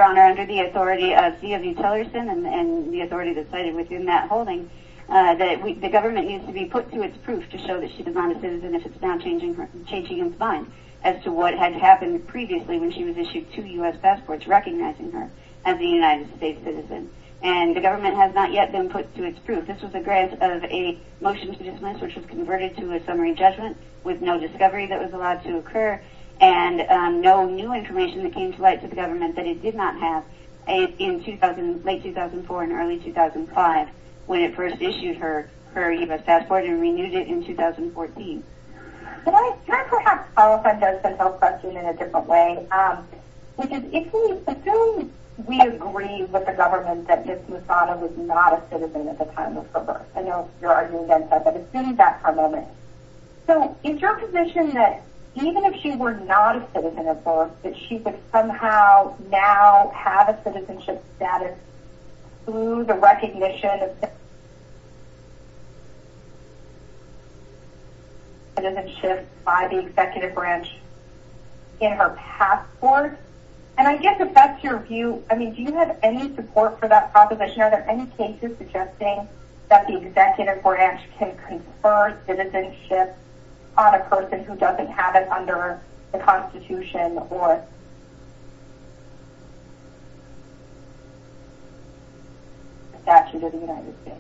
Honor, under the authority of DOD Tillerson and the authority of the study within that holding, that the government needs to be put to its proof to show that she's not a citizen if it's not changing its mind as to what had happened previously when she was issued two U.S. passports recognizing her as a United States citizen. And the government has not yet been put to its proof. This was a grant of a motion to dismiss which was converted to a summary judgment with no discovery that was allowed to occur and no new information that came to light to the government that it did not have in late 2004 and early 2005 when it first issued her U.S. passport and renewed it in 2014. Can I perhaps follow up on Josephine's question in a different way? Because if we assume we agree with the government that Ms. Lozano was not a citizen at the time of her birth, I know you're arguing against that, but assume that for a moment. So is your position that even if she were not a citizen at birth, that she would somehow now have a citizenship status through the recognition of citizenship by the executive branch in her passport? And I guess if that's your view, I mean, do you have any support for that proposition? Are there any cases suggesting that the executive branch can confer citizenship on a person who doesn't have it under the Constitution or the Statute of the United States?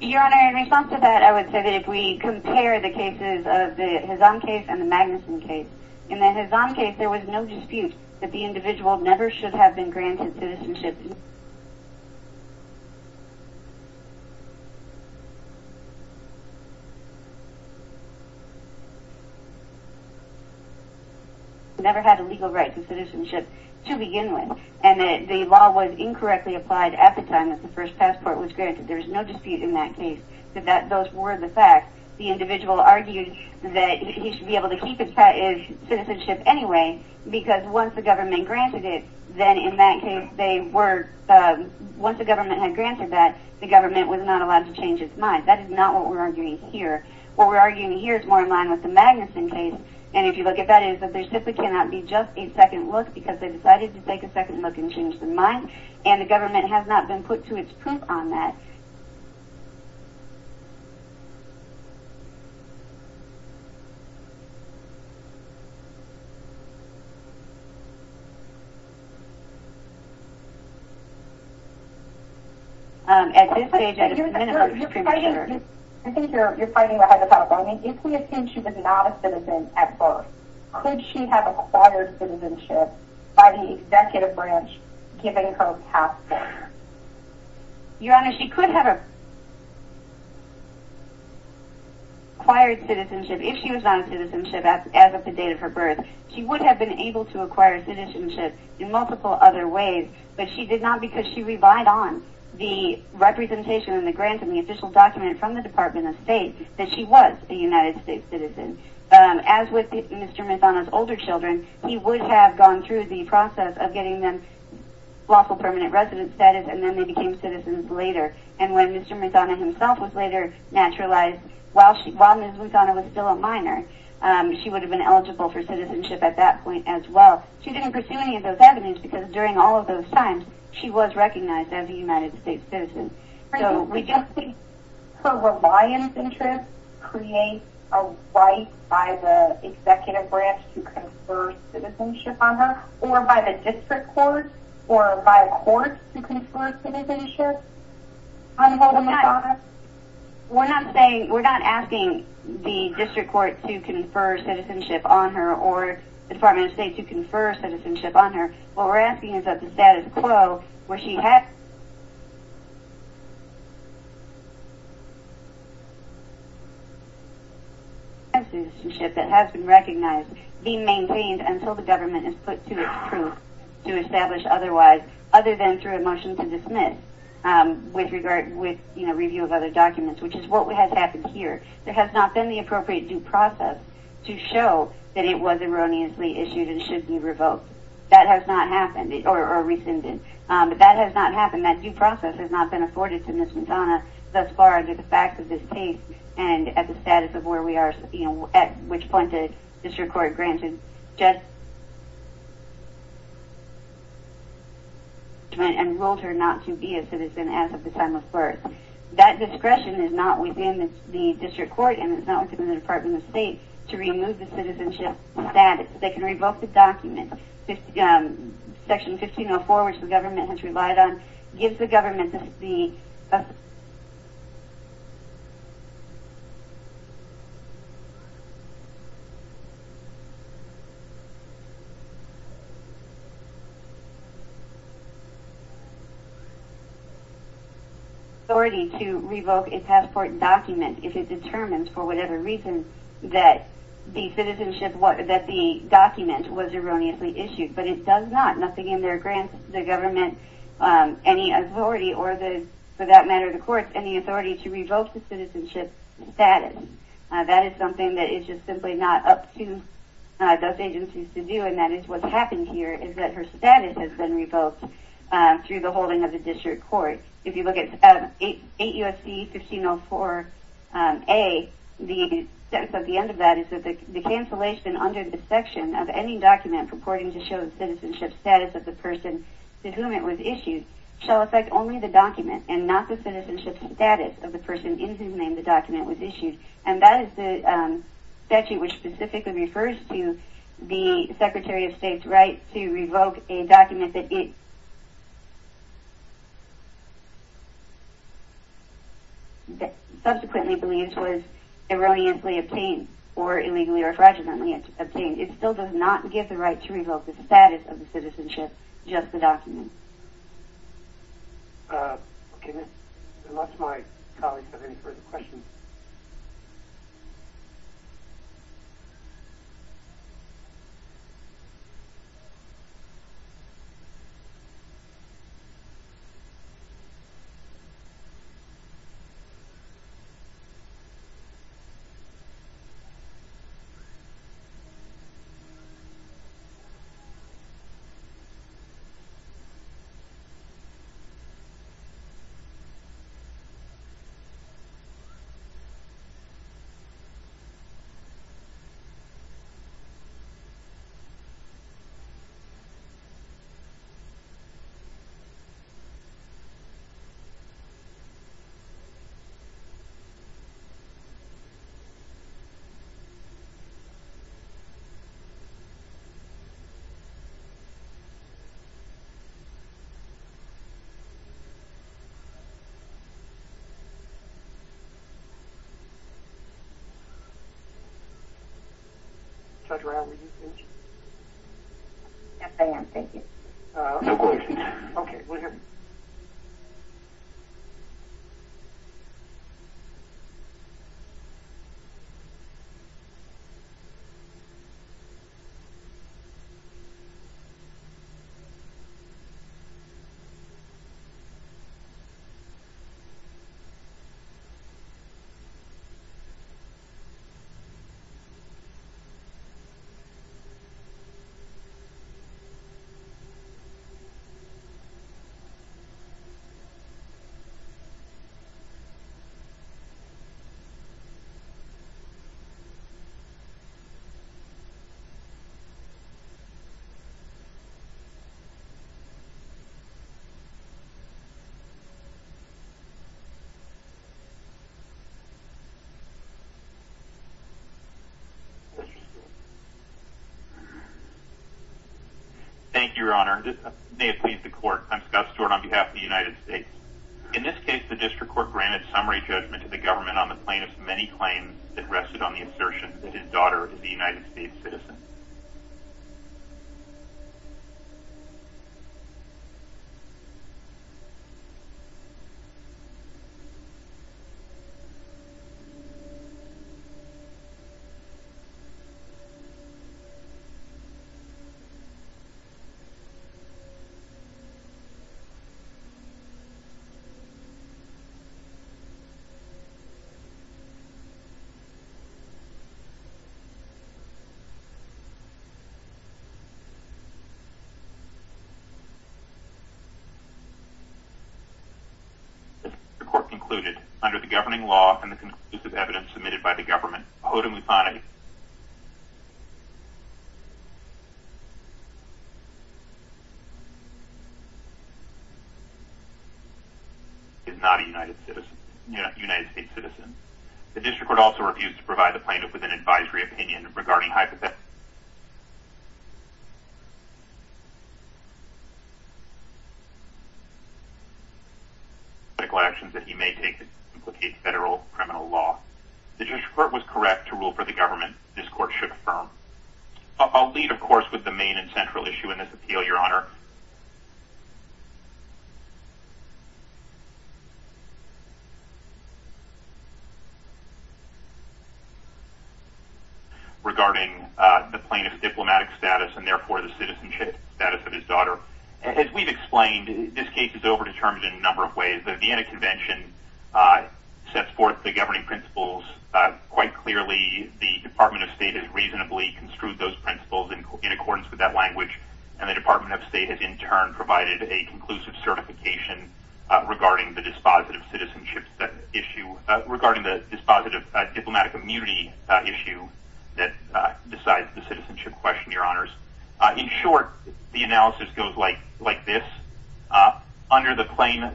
Your Honor, in response to that, I would say that if we compare the cases of the Hazan case and the Magnuson case, in the Hazan case there was no dispute that the individual never should have been granted citizenship. He never had the legal right to citizenship to begin with. And the law was incorrectly applied at the time that the first passport was granted. There was no dispute in that case that those were the facts. The individual argued that he should be able to keep his citizenship anyway because once the government had granted that, the government was not allowed to change its mind. That is not what we're arguing here. What we're arguing here is more in line with the Magnuson case. And if you look at that, there simply cannot be just a second look because they decided to take a second look and change their mind. And the government has not been put to its print on that. I think you're fighting that as well. If we assume she was not a citizen at birth, could she have acquired citizenship by the executive branch given her past? Your Honor, she could have acquired citizenship if she was not a citizenship as of the date of her birth. She would have been able to acquire citizenship in multiple other ways, but she did not because she relied on the representation and the grant and the official document from the Department of State that she was a United States citizen. As with Mr. Mazzano's older children, he would have gone through the process of getting them lawful permanent resident status and then they became citizens later. And when Mr. Mazzano himself was later naturalized, while Ms. Mazzano was still a minor, she would have been eligible for citizenship at that point as well. She didn't pursue any of those avenues because during all of those times, she was recognized as a United States citizen. So would you think her reliance interest creates a right by the executive branch to confer citizenship on her or by the district court or by a court to confer citizenship on her? We're not asking the district court to confer citizenship on her or the Department of State to confer citizenship on her. What we're asking is that the status quo where she had citizenship that has been recognized be maintained until the government is put to its proof to establish otherwise other than through a motion to dismiss with review of other documents, which is what has happened here. There has not been the appropriate due process to show that it was erroneously issued and should be revoked. That has not happened or rescinded. But that has not happened. That due process has not been afforded to Ms. Mazzano thus far under the facts of this case and at the status of where we are at which point the district court granted just and ruled her not to be a citizen as of the time of birth. That discretion is not within the district court and it's not within the Department of State to remove the citizenship status. They can revoke the document. Section 1504, which the government has relied on, gives the government the authority to revoke a passport document if it determines for whatever reason that the document was erroneously issued. But it does not. Nothing in there grants the government any authority or, for that matter, the courts any authority to revoke the citizenship status. That is something that is just simply not up to those agencies to do and that is what's happened here is that her status has been revoked through the holding of the district court. If you look at 8 U.S.C. 1504A, the sentence at the end of that is that the cancellation under the section of any document purporting to show the citizenship status of the person to whom it was issued shall affect only the document and not the citizenship status of the person in whom the document was issued. And that is the statute which specifically refers to the Secretary of State's right to revoke a document that it subsequently believes was erroneously obtained or illegally or fraudulently obtained. It still does not give the right to revoke the status of the citizenship, just the document. Unless my colleagues have any further questions. Thank you. Judge Ryan, were you finished? I think I'm finished. Okay, we're good. Thank you, Your Honor. Your Honor, may it please the court, I'm Scott Stewart on behalf of the United States. In this case, the district court granted summary judgment to the government on the plaintiff's many claims that rested on the assertion that his daughter is a United States citizen. The court concluded, under the governing law and the conclusive evidence submitted by the government, that the plaintiff is not a United States citizen. The district court also refused to provide the plaintiff with an advisory opinion regarding hypothetical actions that he may take that implicate federal criminal law. The district court was correct to rule for the government. This court should affirm. I'll leave, of course, with the main and central issue in this appeal, Your Honor, regarding the plaintiff's diplomatic status and therefore the citizenship status of his daughter. As we've explained, this case is over-determined in a number of ways. The Vienna Convention sets forth the governing principles quite clearly. The Department of State has reasonably construed those principles in accordance with that language. And the Department of State has, in turn, provided a conclusive certification regarding the dispositive citizenship issue, regarding the dispositive diplomatic immunity issue that decides the citizenship question, Your Honors. In short, the analysis goes like this. Under the plain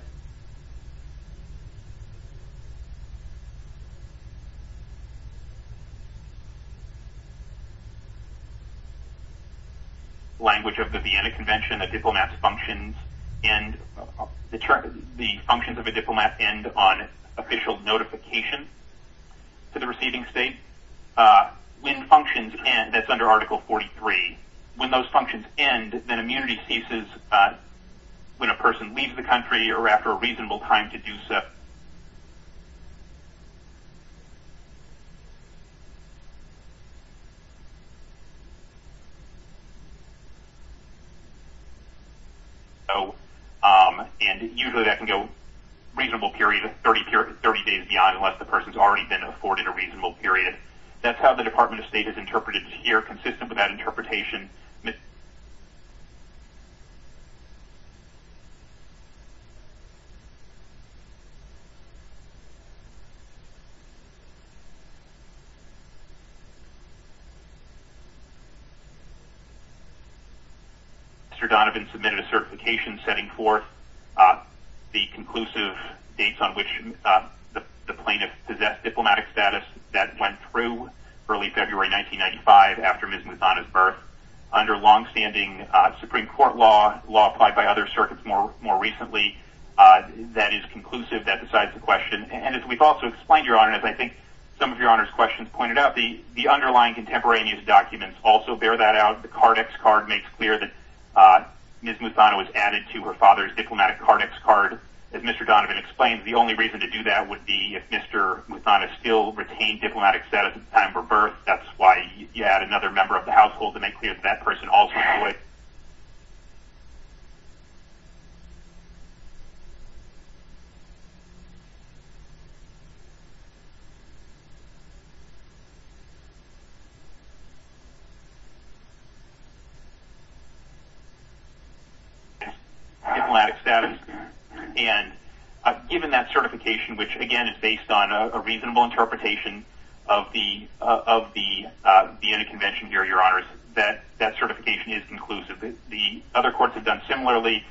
language of the Vienna Convention, the functions of a diplomat end on official notification to the receiving state. When functions end, that's under Article 43, when those functions end, then immunity ceases when a person leaves the country or after a reasonable time to do so. And usually that can go a reasonable period of 30 days beyond unless the person's already been afforded a reasonable period. That's how the Department of State has interpreted it here. Consistent with that interpretation, Mr. Donovan submitted a certification setting forth the conclusive dates on which the plaintiff possessed diplomatic status that went through early February 1995 after Ms. Muthana's birth. Under long-standing Supreme Court law, law applied by other circuits more recently, that is conclusive, that decides the question. And as we've also explained, Your Honor, and as I think some of Your Honor's questions pointed out, the underlying contemporaneous documents also bear that out. The Cardex card makes clear that Ms. Muthana was added to her father's diplomatic Cardex card. As Mr. Donovan explained, the only reason to do that would be if Mr. Muthana still retained diplomatic status at the time of her birth. That's why you add another member of the household and make clear that that person also employed diplomatic status. And given that certification, which again is based on a reasonable interpretation of the end of convention here, Your Honors, that certification is conclusive. The other courts have done similarly.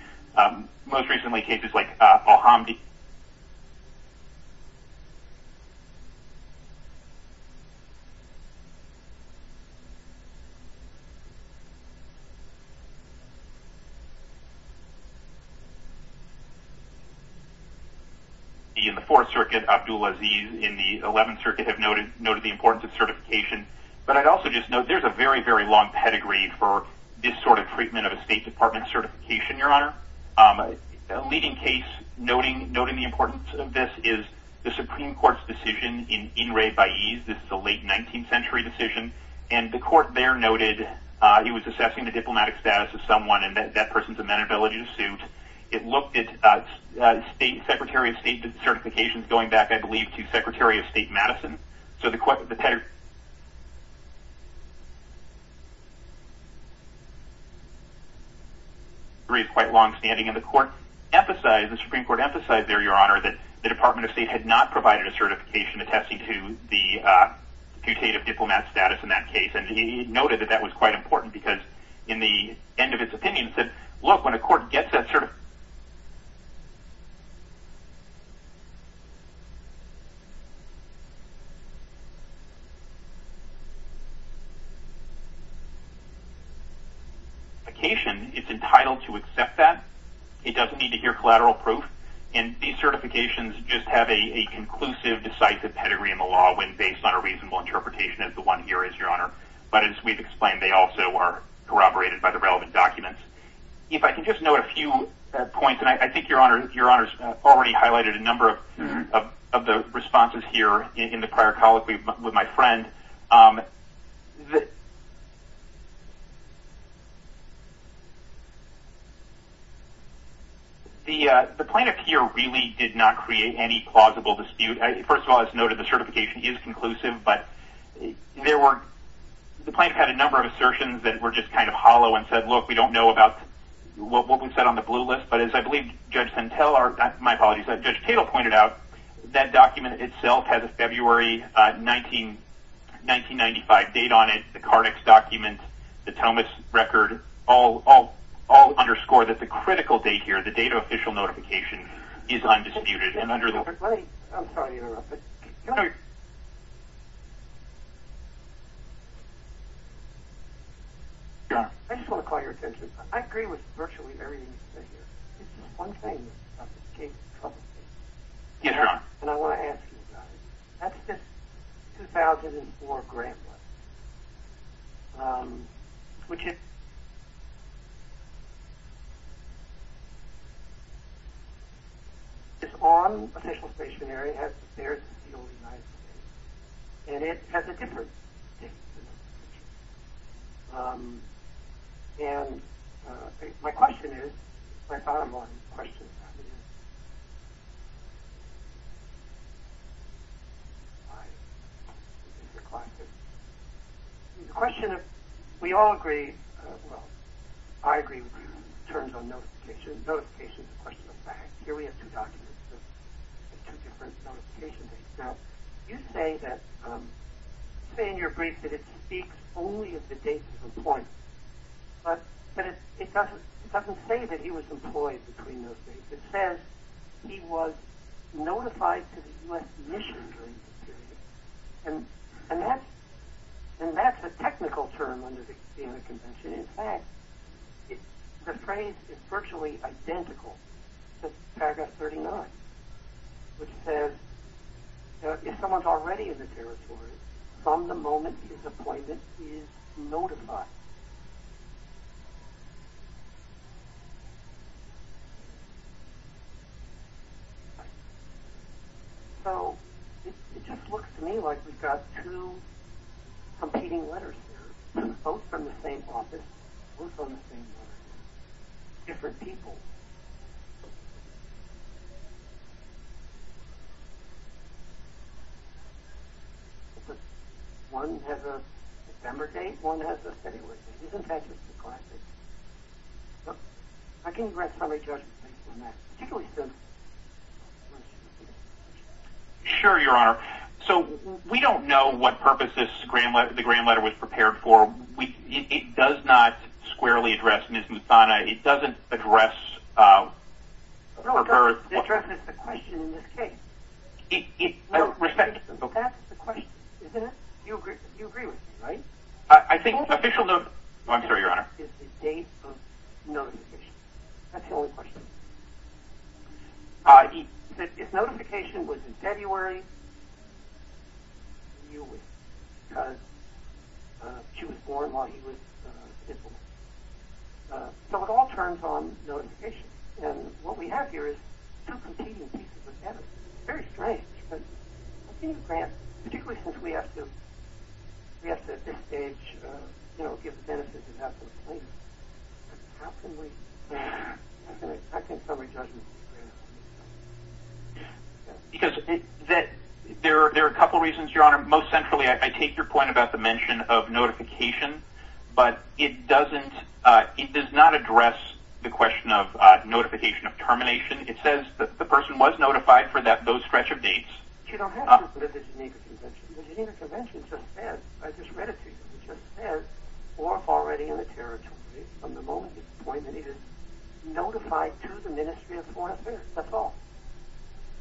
Most recently cases like Al-Hamdi in the Fourth Circuit. Abdul Aziz in the Eleventh Circuit have noted the importance of certification. But I'd also just note there's a very, very long pedigree for this sort of treatment of a State Department certification, Your Honor. A leading case noting the importance of this is the Supreme Court's decision in Inrei Baez. This is a late 19th century decision. And the court there noted he was assessing the diplomatic status of someone and that that person's amenability to suit. It looked at Secretary of State certifications going back, I believe, to Secretary of State Madison. So the pedigree is quite longstanding. And the Supreme Court emphasized there, Your Honor, that the Department of State had not provided a certification attesting to the putative diplomat status in that case. And he noted that that was quite important because in the end of his opinion he said, look, when a court gets that certification, it's entitled to accept that. It doesn't need to hear collateral proof. And these certifications just have a conclusive, decisive pedigree in the law when based on a reasonable interpretation as the one here is, Your Honor. But as we've explained, they also are corroborated by the relevant documents. If I can just note a few points, and I think, Your Honor, Your Honor's already highlighted a number of the responses here in the prior colloquy with my friend. The plaintiff here really did not create any plausible dispute. First of all, as noted, the certification is conclusive. But the plaintiff had a number of assertions that were just kind of hollow and said, look, we don't know about what we've said on the blue list. But as I believe Judge Santel or, my apologies, Judge Cato pointed out, that document itself has a February 1995 date on it, the Cardex document, the Thomas record, all underscore that the critical date here, the date of official notification, is undisputed. Let me, I'm sorry to interrupt. I just want to call your attention. I agree with virtually everything that's been said here. There's just one thing that came to trouble here. Yes, Your Honor. And I want to ask you about it. That's the 2004 grant letter. Which is on official stationery as compared to the United States. And it has a different date. And my question is, my bottom line question is, the question of, we all agree, well I agree with you in terms of notification. Notification is a question of facts. Here we have two documents with two different notification dates. Now, you say that, say in your brief that it speaks only of the date of appointment. But it doesn't say that he was employed between those dates. It says he was notified to the U.S. mission during this period. And that's a technical term under the Convention. And in fact, the phrase is virtually identical to paragraph 39. Which says, if someone's already in the territory from the moment his appointment is notified. So it just looks to me like we've got two competing letters here. Both from the same office. Both on the same letter. Different people. One has a December date. One has a February date. In fact, it's the classic. I can address some of your questions on that. Particularly since. Sure, Your Honor. So, we don't know what purpose this grand letter was prepared for. It does not squarely address Ms. Muthana. It doesn't address. No, it doesn't address the question in this case. I respect. That's the question, isn't it? You agree with me, right? I think official. I'm sorry, Your Honor. It's the date of notification. That's the whole question. He said, if notification was in February, you would, because she was born while he was disabled. So it all turns on notification. And what we have here is two competing pieces of evidence. It's very strange. We have to at this stage, you know, get the benefit of the doubt. How can we. I think somebody doesn't. Because there are a couple reasons, Your Honor. Most centrally, I take your point about the mention of notification. But it doesn't. It does not address the question of notification of termination. It says that the person was notified for that, those stretch of dates. You don't have to put it in the Geneva Convention. The Geneva Convention just said, I just read it to you. It just said, or already in the territory, from the moment of appointment, he was notified to the Ministry of Foreign Affairs. That's all.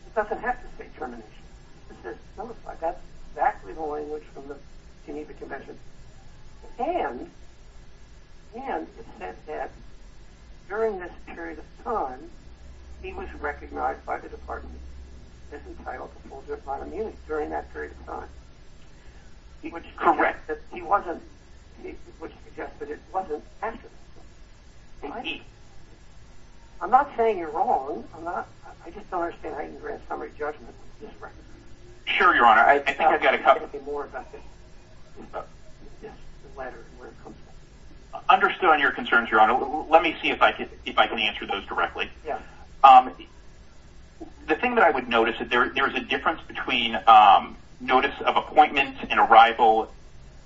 It doesn't have to say termination. It says notified. That's exactly the language from the Geneva Convention. And it said that during this period of time, he was recognized by the department as entitled to hold their bottom unit during that period of time. Correct. Which suggests that it wasn't actually. I'm not saying you're wrong. I just don't understand how you can grant summary judgment. Sure, Your Honor. I think I've got a couple. Understood on your concerns, Your Honor. Let me see if I can answer those directly. The thing that I would notice, there is a difference between notice of appointment and arrival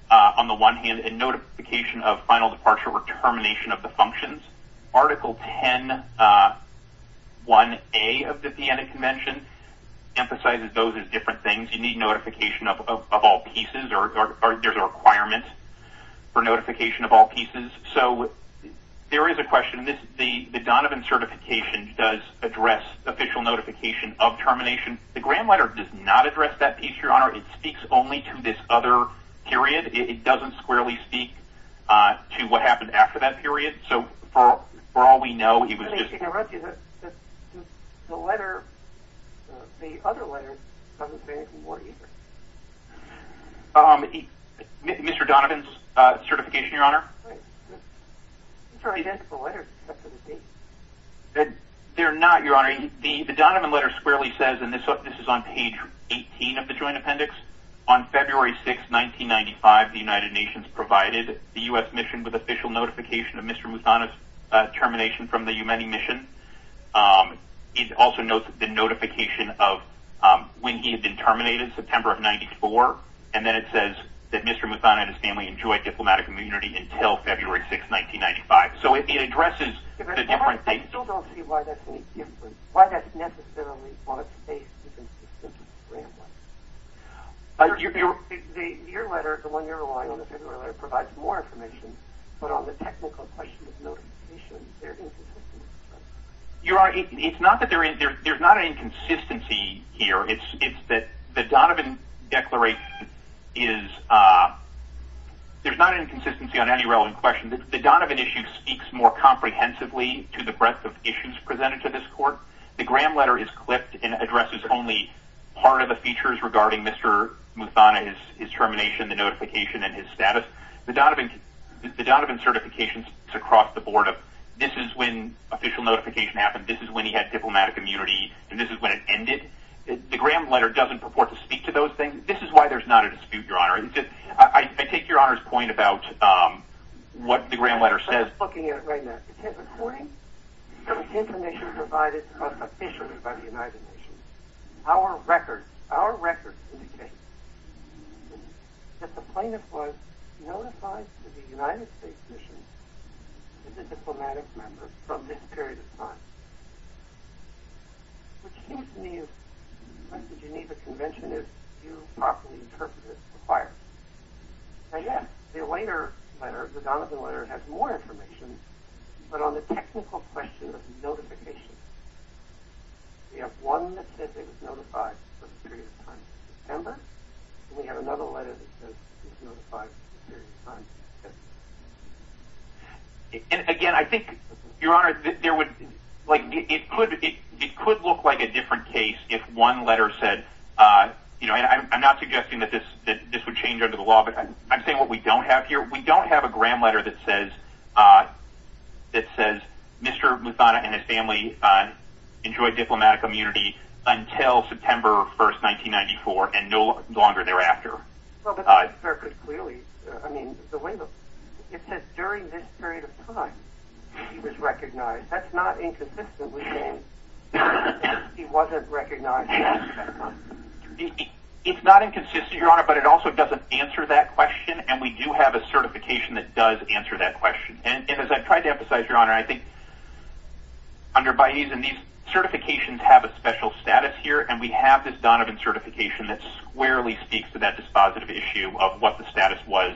on the one hand and notification of final departure or termination of the functions. Article 10-1A of the Vienna Convention emphasizes those as different things. You need notification of all pieces, or there's a requirement for notification of all pieces. So there is a question. The Donovan certification does address official notification of termination. The grant letter does not address that piece, Your Honor. It speaks only to this other period. It doesn't squarely speak to what happened after that period. For all we know, he was just... Let me interrupt you. The letter, the other letter, doesn't say anything more either. Mr. Donovan's certification, Your Honor. These are identical letters. They're not, Your Honor. The Donovan letter squarely says, and this is on page 18 of the joint appendix, on February 6, 1995, that the United Nations provided the U.S. mission with official notification of Mr. Muthana's termination from the Yemeni mission. It also notes the notification of when he had been terminated, September of 1994, and then it says that Mr. Muthana and his family enjoyed diplomatic immunity until February 6, 1995. So it addresses the different things. I still don't see why that's necessarily on a page of the grant letter. Your letter, the one you're relying on, the February letter, provides more information, but on the technical question of notification, there isn't. Your Honor, it's not that there's not any consistency here. It's that the Donovan declaration is... There's not inconsistency on any relevant question. The Donovan issue speaks more comprehensively to the breadth of issues presented to this court. The grant letter is clipped and addresses only part of the features regarding Mr. Muthana's termination, the notification, and his status. The Donovan certification is across the board of this is when official notification happened, this is when he had diplomatic immunity, and this is when it ended. The grant letter doesn't purport to speak to those things. This is why there's not a dispute, Your Honor. I take Your Honor's point about what the grant letter says. I'm just looking at it right now. According to the information provided to us officially by the United Nations, our records indicate that the plaintiff was notified by the United States Commission as a diplomatic member from this period of time. It seems to me that the Geneva Convention is due to properly interpret it as required. And, yes, the later letter, the Donovan letter, has more information, but on the technical question of notification. We have one that says he was notified from this period of time in December, and we have another letter that says he was notified from this period of time in December. Again, I think, Your Honor, it could look like a different case if one letter said, you know, I'm not suggesting that this would change under the law, but I'm saying what we don't have here. We don't have a grant letter that says Mr. Muthana and his family enjoyed diplomatic immunity until September 1, 1994, and no longer thereafter. Well, but that's perfectly clear. I mean, it says during this period of time he was recognized. That's not inconsistently saying he wasn't recognized. It's not inconsistently, Your Honor, but it also doesn't answer that question, and we do have a certification that does answer that question. And as I've tried to emphasize, Your Honor, I think under Baez and these certifications have a special status here, and we have this Donovan certification that squarely speaks to that dispositive issue of what the status was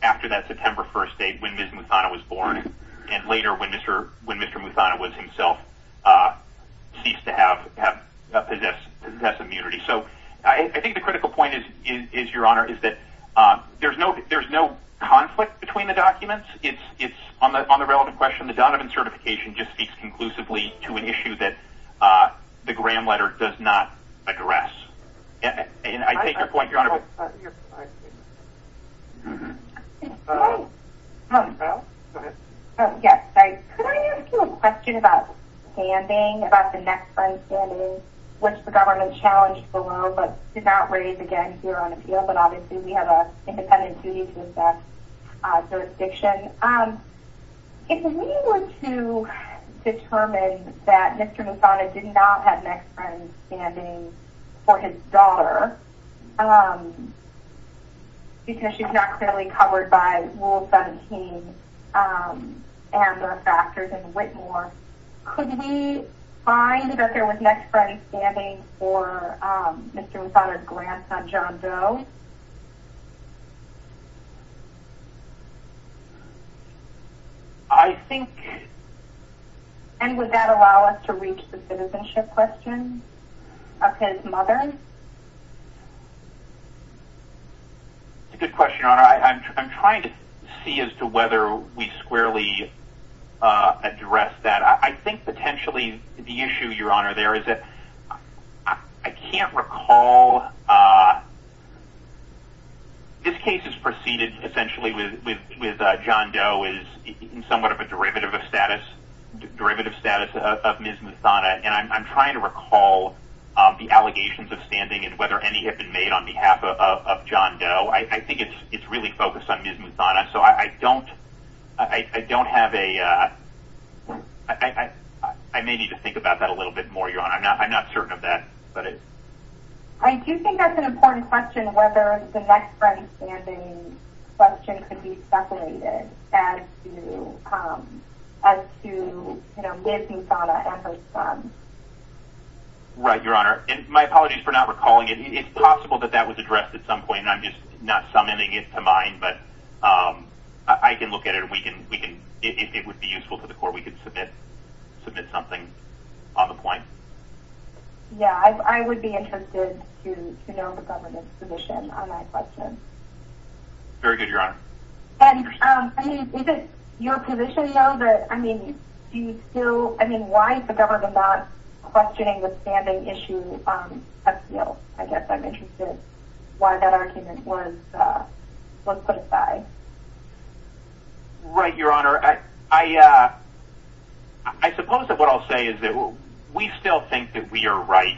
after that September 1 date when Ms. Muthana was born, and later when Mr. Muthana was himself ceased to have possessive immunity. So I think the critical point is, Your Honor, is that there's no conflict between the documents. It's on the relevant question. The Donovan certification just speaks conclusively to an issue that the grant And I take your point, Your Honor. Oh, yes. Could I ask you a question about standing, about the next friend standing, which the government challenged below, but did not raise again here on appeal, but obviously we have an independent duty to assess jurisdiction. If we were to determine that Mr. Muthana did not have next friend standing for his daughter, because she's not clearly covered by Rule 17, and the factors in Whitmore, could we find that there was next friend standing for Mr. Muthana's grandson, John Doe? I think. And would that allow us to reach the citizenship question of his mother? Good question, Your Honor. I'm trying to see as to whether we squarely address that. I think potentially the issue, Your Honor, there is that, I can't recall, this case is preceded essentially with John Doe is somewhat of a derivative of status of Ms. Muthana, and I'm trying to recall the allegations of standing and whether any have been made on behalf of John Doe. I think it's really focused on Ms. Muthana, so I don't have a, I may need to think about that a little bit more, Your Honor. I'm not certain of that. I do think that's an important question, whether the next friend standing question could be separated as to Ms. Muthana and her son. Right, Your Honor. My apologies for not recalling it. It's possible that that was addressed at some point. I'm just not summoning it to mind, but I can look at it. It would be useful to the court. We could submit something off the point. Yeah, I would be interested to know the government's position on that question. Very good, Your Honor. Is it your position, though, that, I mean, why is the government not questioning the standing issue at scale? I guess I'm interested in why that argument was put aside. Right, Your Honor. I suppose that what I'll say is that we still think that we are right,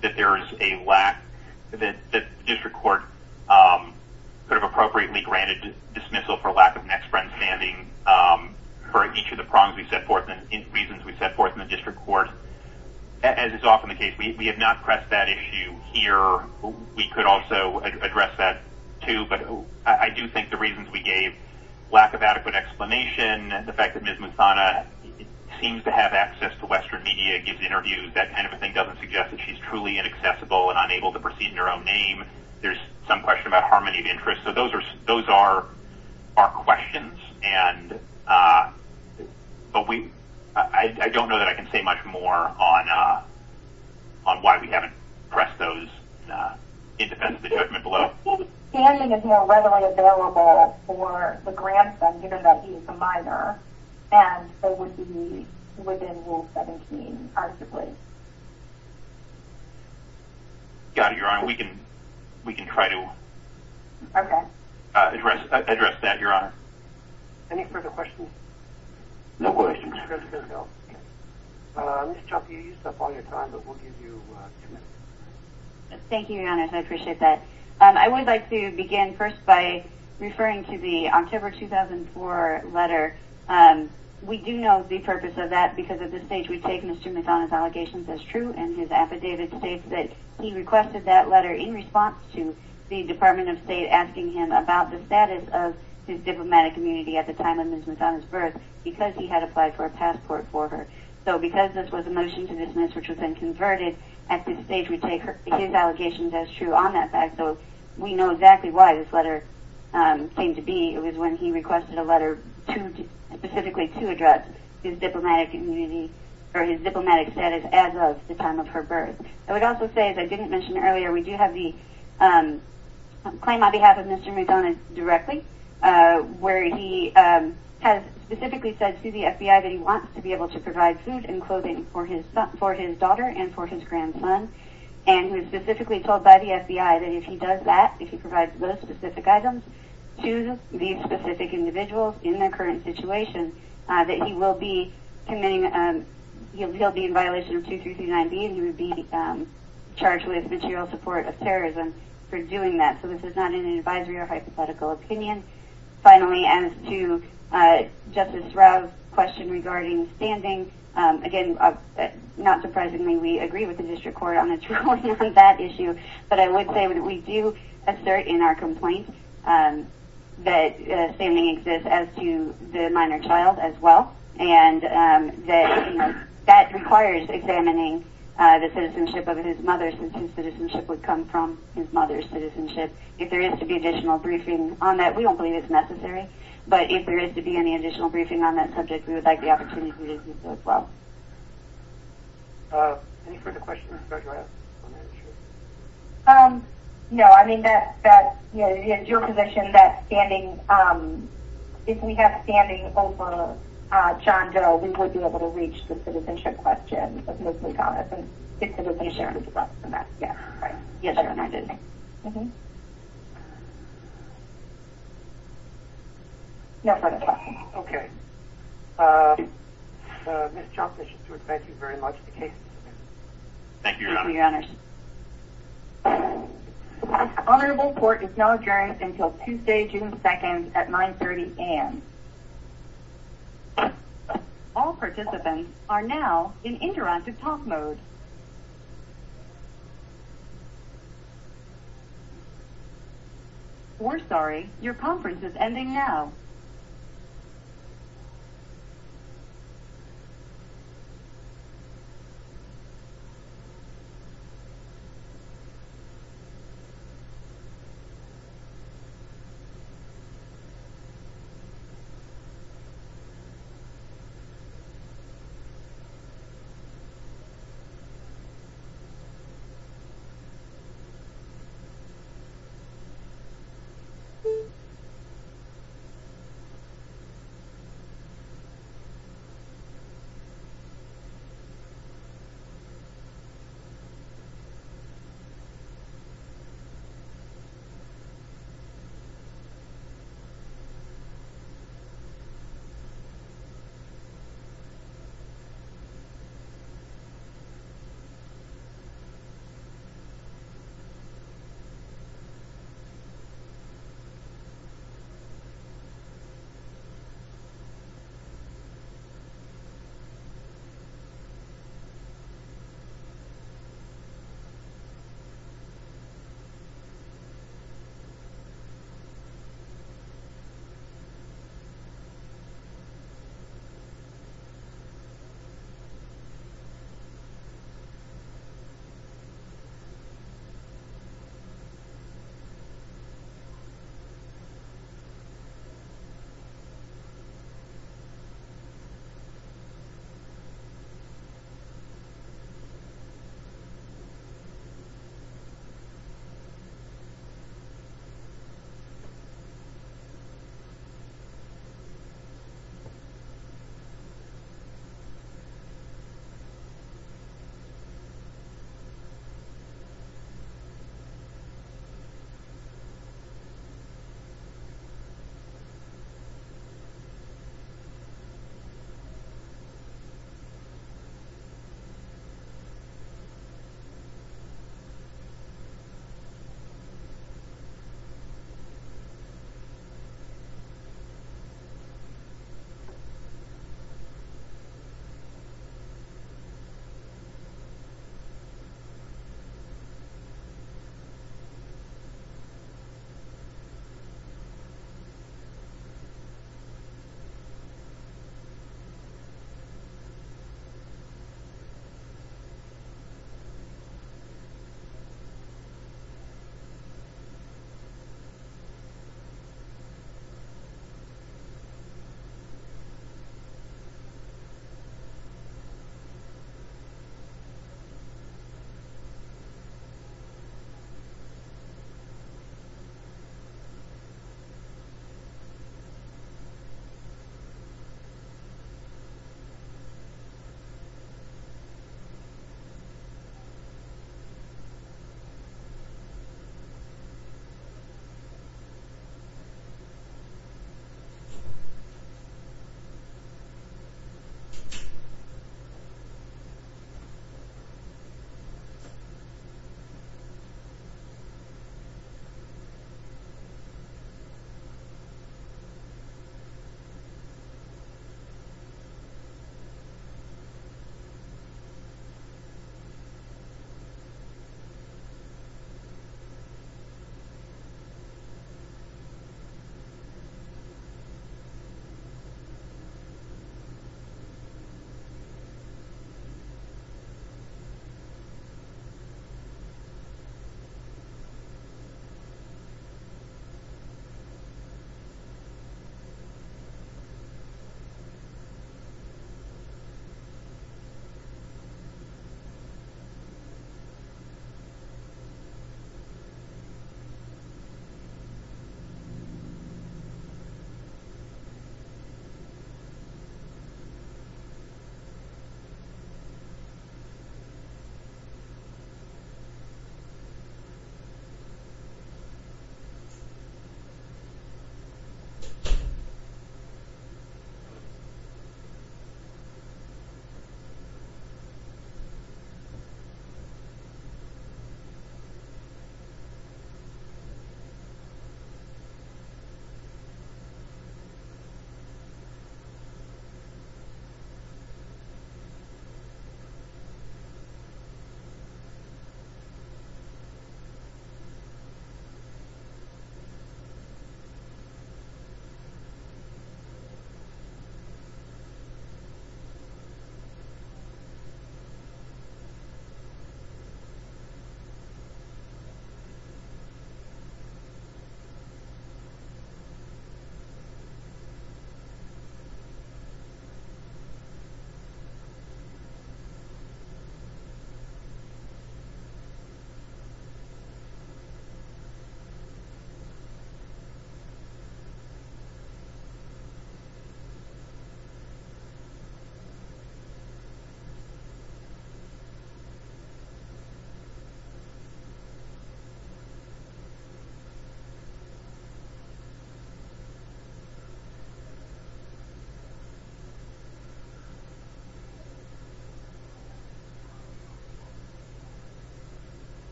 that there is a lack, that the district court could have appropriately granted dismissal for lack of next friend standing for each of the reasons we set forth in the district court. As is often the case, we have not pressed that issue here. We could also address that, too, but I do think the reasons we gave, lack of adequate explanation, and the fact that Ms. Muthana seems to have access to Western media, gives interviews, that kind of thing, doesn't suggest that she's truly inaccessible and unable to proceed in her own name. There's some question about harmony of interest. So those are questions. I don't know that I can say much more on why we haven't pressed those in defense of the judgment below. Standing is more readily available for the grandson, given that he is a minor, and it would be within Rule 17, practically. Got it, Your Honor. We can Any further questions? No questions. Ms. Chopp, you used up all your time, but we'll give you two minutes. Thank you, Your Honor. I appreciate that. I would like to begin first by referring to the October 2004 letter. We do know the purpose of that because at this stage we take Mr. Muthana's allegations as true, and his affidavit states that he requested that letter in response to the Department of State asking him about the status of his diplomatic community at the time of Ms. Muthana's birth because he had applied for a passport for her. So because this was a motion to dismiss, which was then converted, at this stage we take his allegations as true on that fact. So we know exactly why this letter came to be. It was when he requested a letter in response to the Department of State asking him about the status as of the time of her birth. I would also say, as I didn't mention earlier, we do have the claim on behalf of Mr. Muthana directly, where he has specifically said to the FBI that he wants to be able to provide food and clothing for his daughter and for his grandson, and he was specifically told by the FBI that if he does that, if he provides those specific items to these specific individuals in their current situation, that he will be committing, he'll be in violation of 2339B and he will be charged with material support of terrorism for doing that. So this is not an advisory or hypothetical opinion. Finally, as to Justice Rao's question regarding standing, again, not surprisingly we agree with the District Court on a minor child issue, but I would say we do assert in our complaint that standing exists as to the minor child as well, and that requires examining the citizenship of his mother since his citizenship would come from his mother's citizenship. If there is to be additional briefing on that, we don't believe it's necessary, but if there is to be any additional briefing on that subject, we would like the opportunity to do so as well. Any further questions for Judge Rao? No, I mean, it's your position that if we have standing over John Doe, we would be able to reach the citizenship question of Mrs. Thomas. Yes, that is fine. Okay. Ms. Thomas, thank you very much. Thank you, Your Honor. Honorable Court is now adjourned until Tuesday, June 2nd at 930 a.m. All participants are now in interactive talk mode. We're sorry, your conference is ending now. Thank you.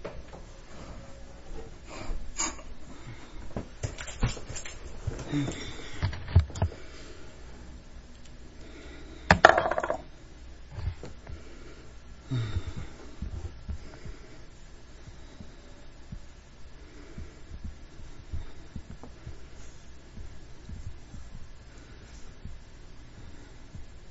Thank you. Thank you. Thank you. Thank you. Thank you. Thank you. Thank you. Thank you. Thank you. Thank you. Thank you. Thank you. Thank you. Thank you. Thank you.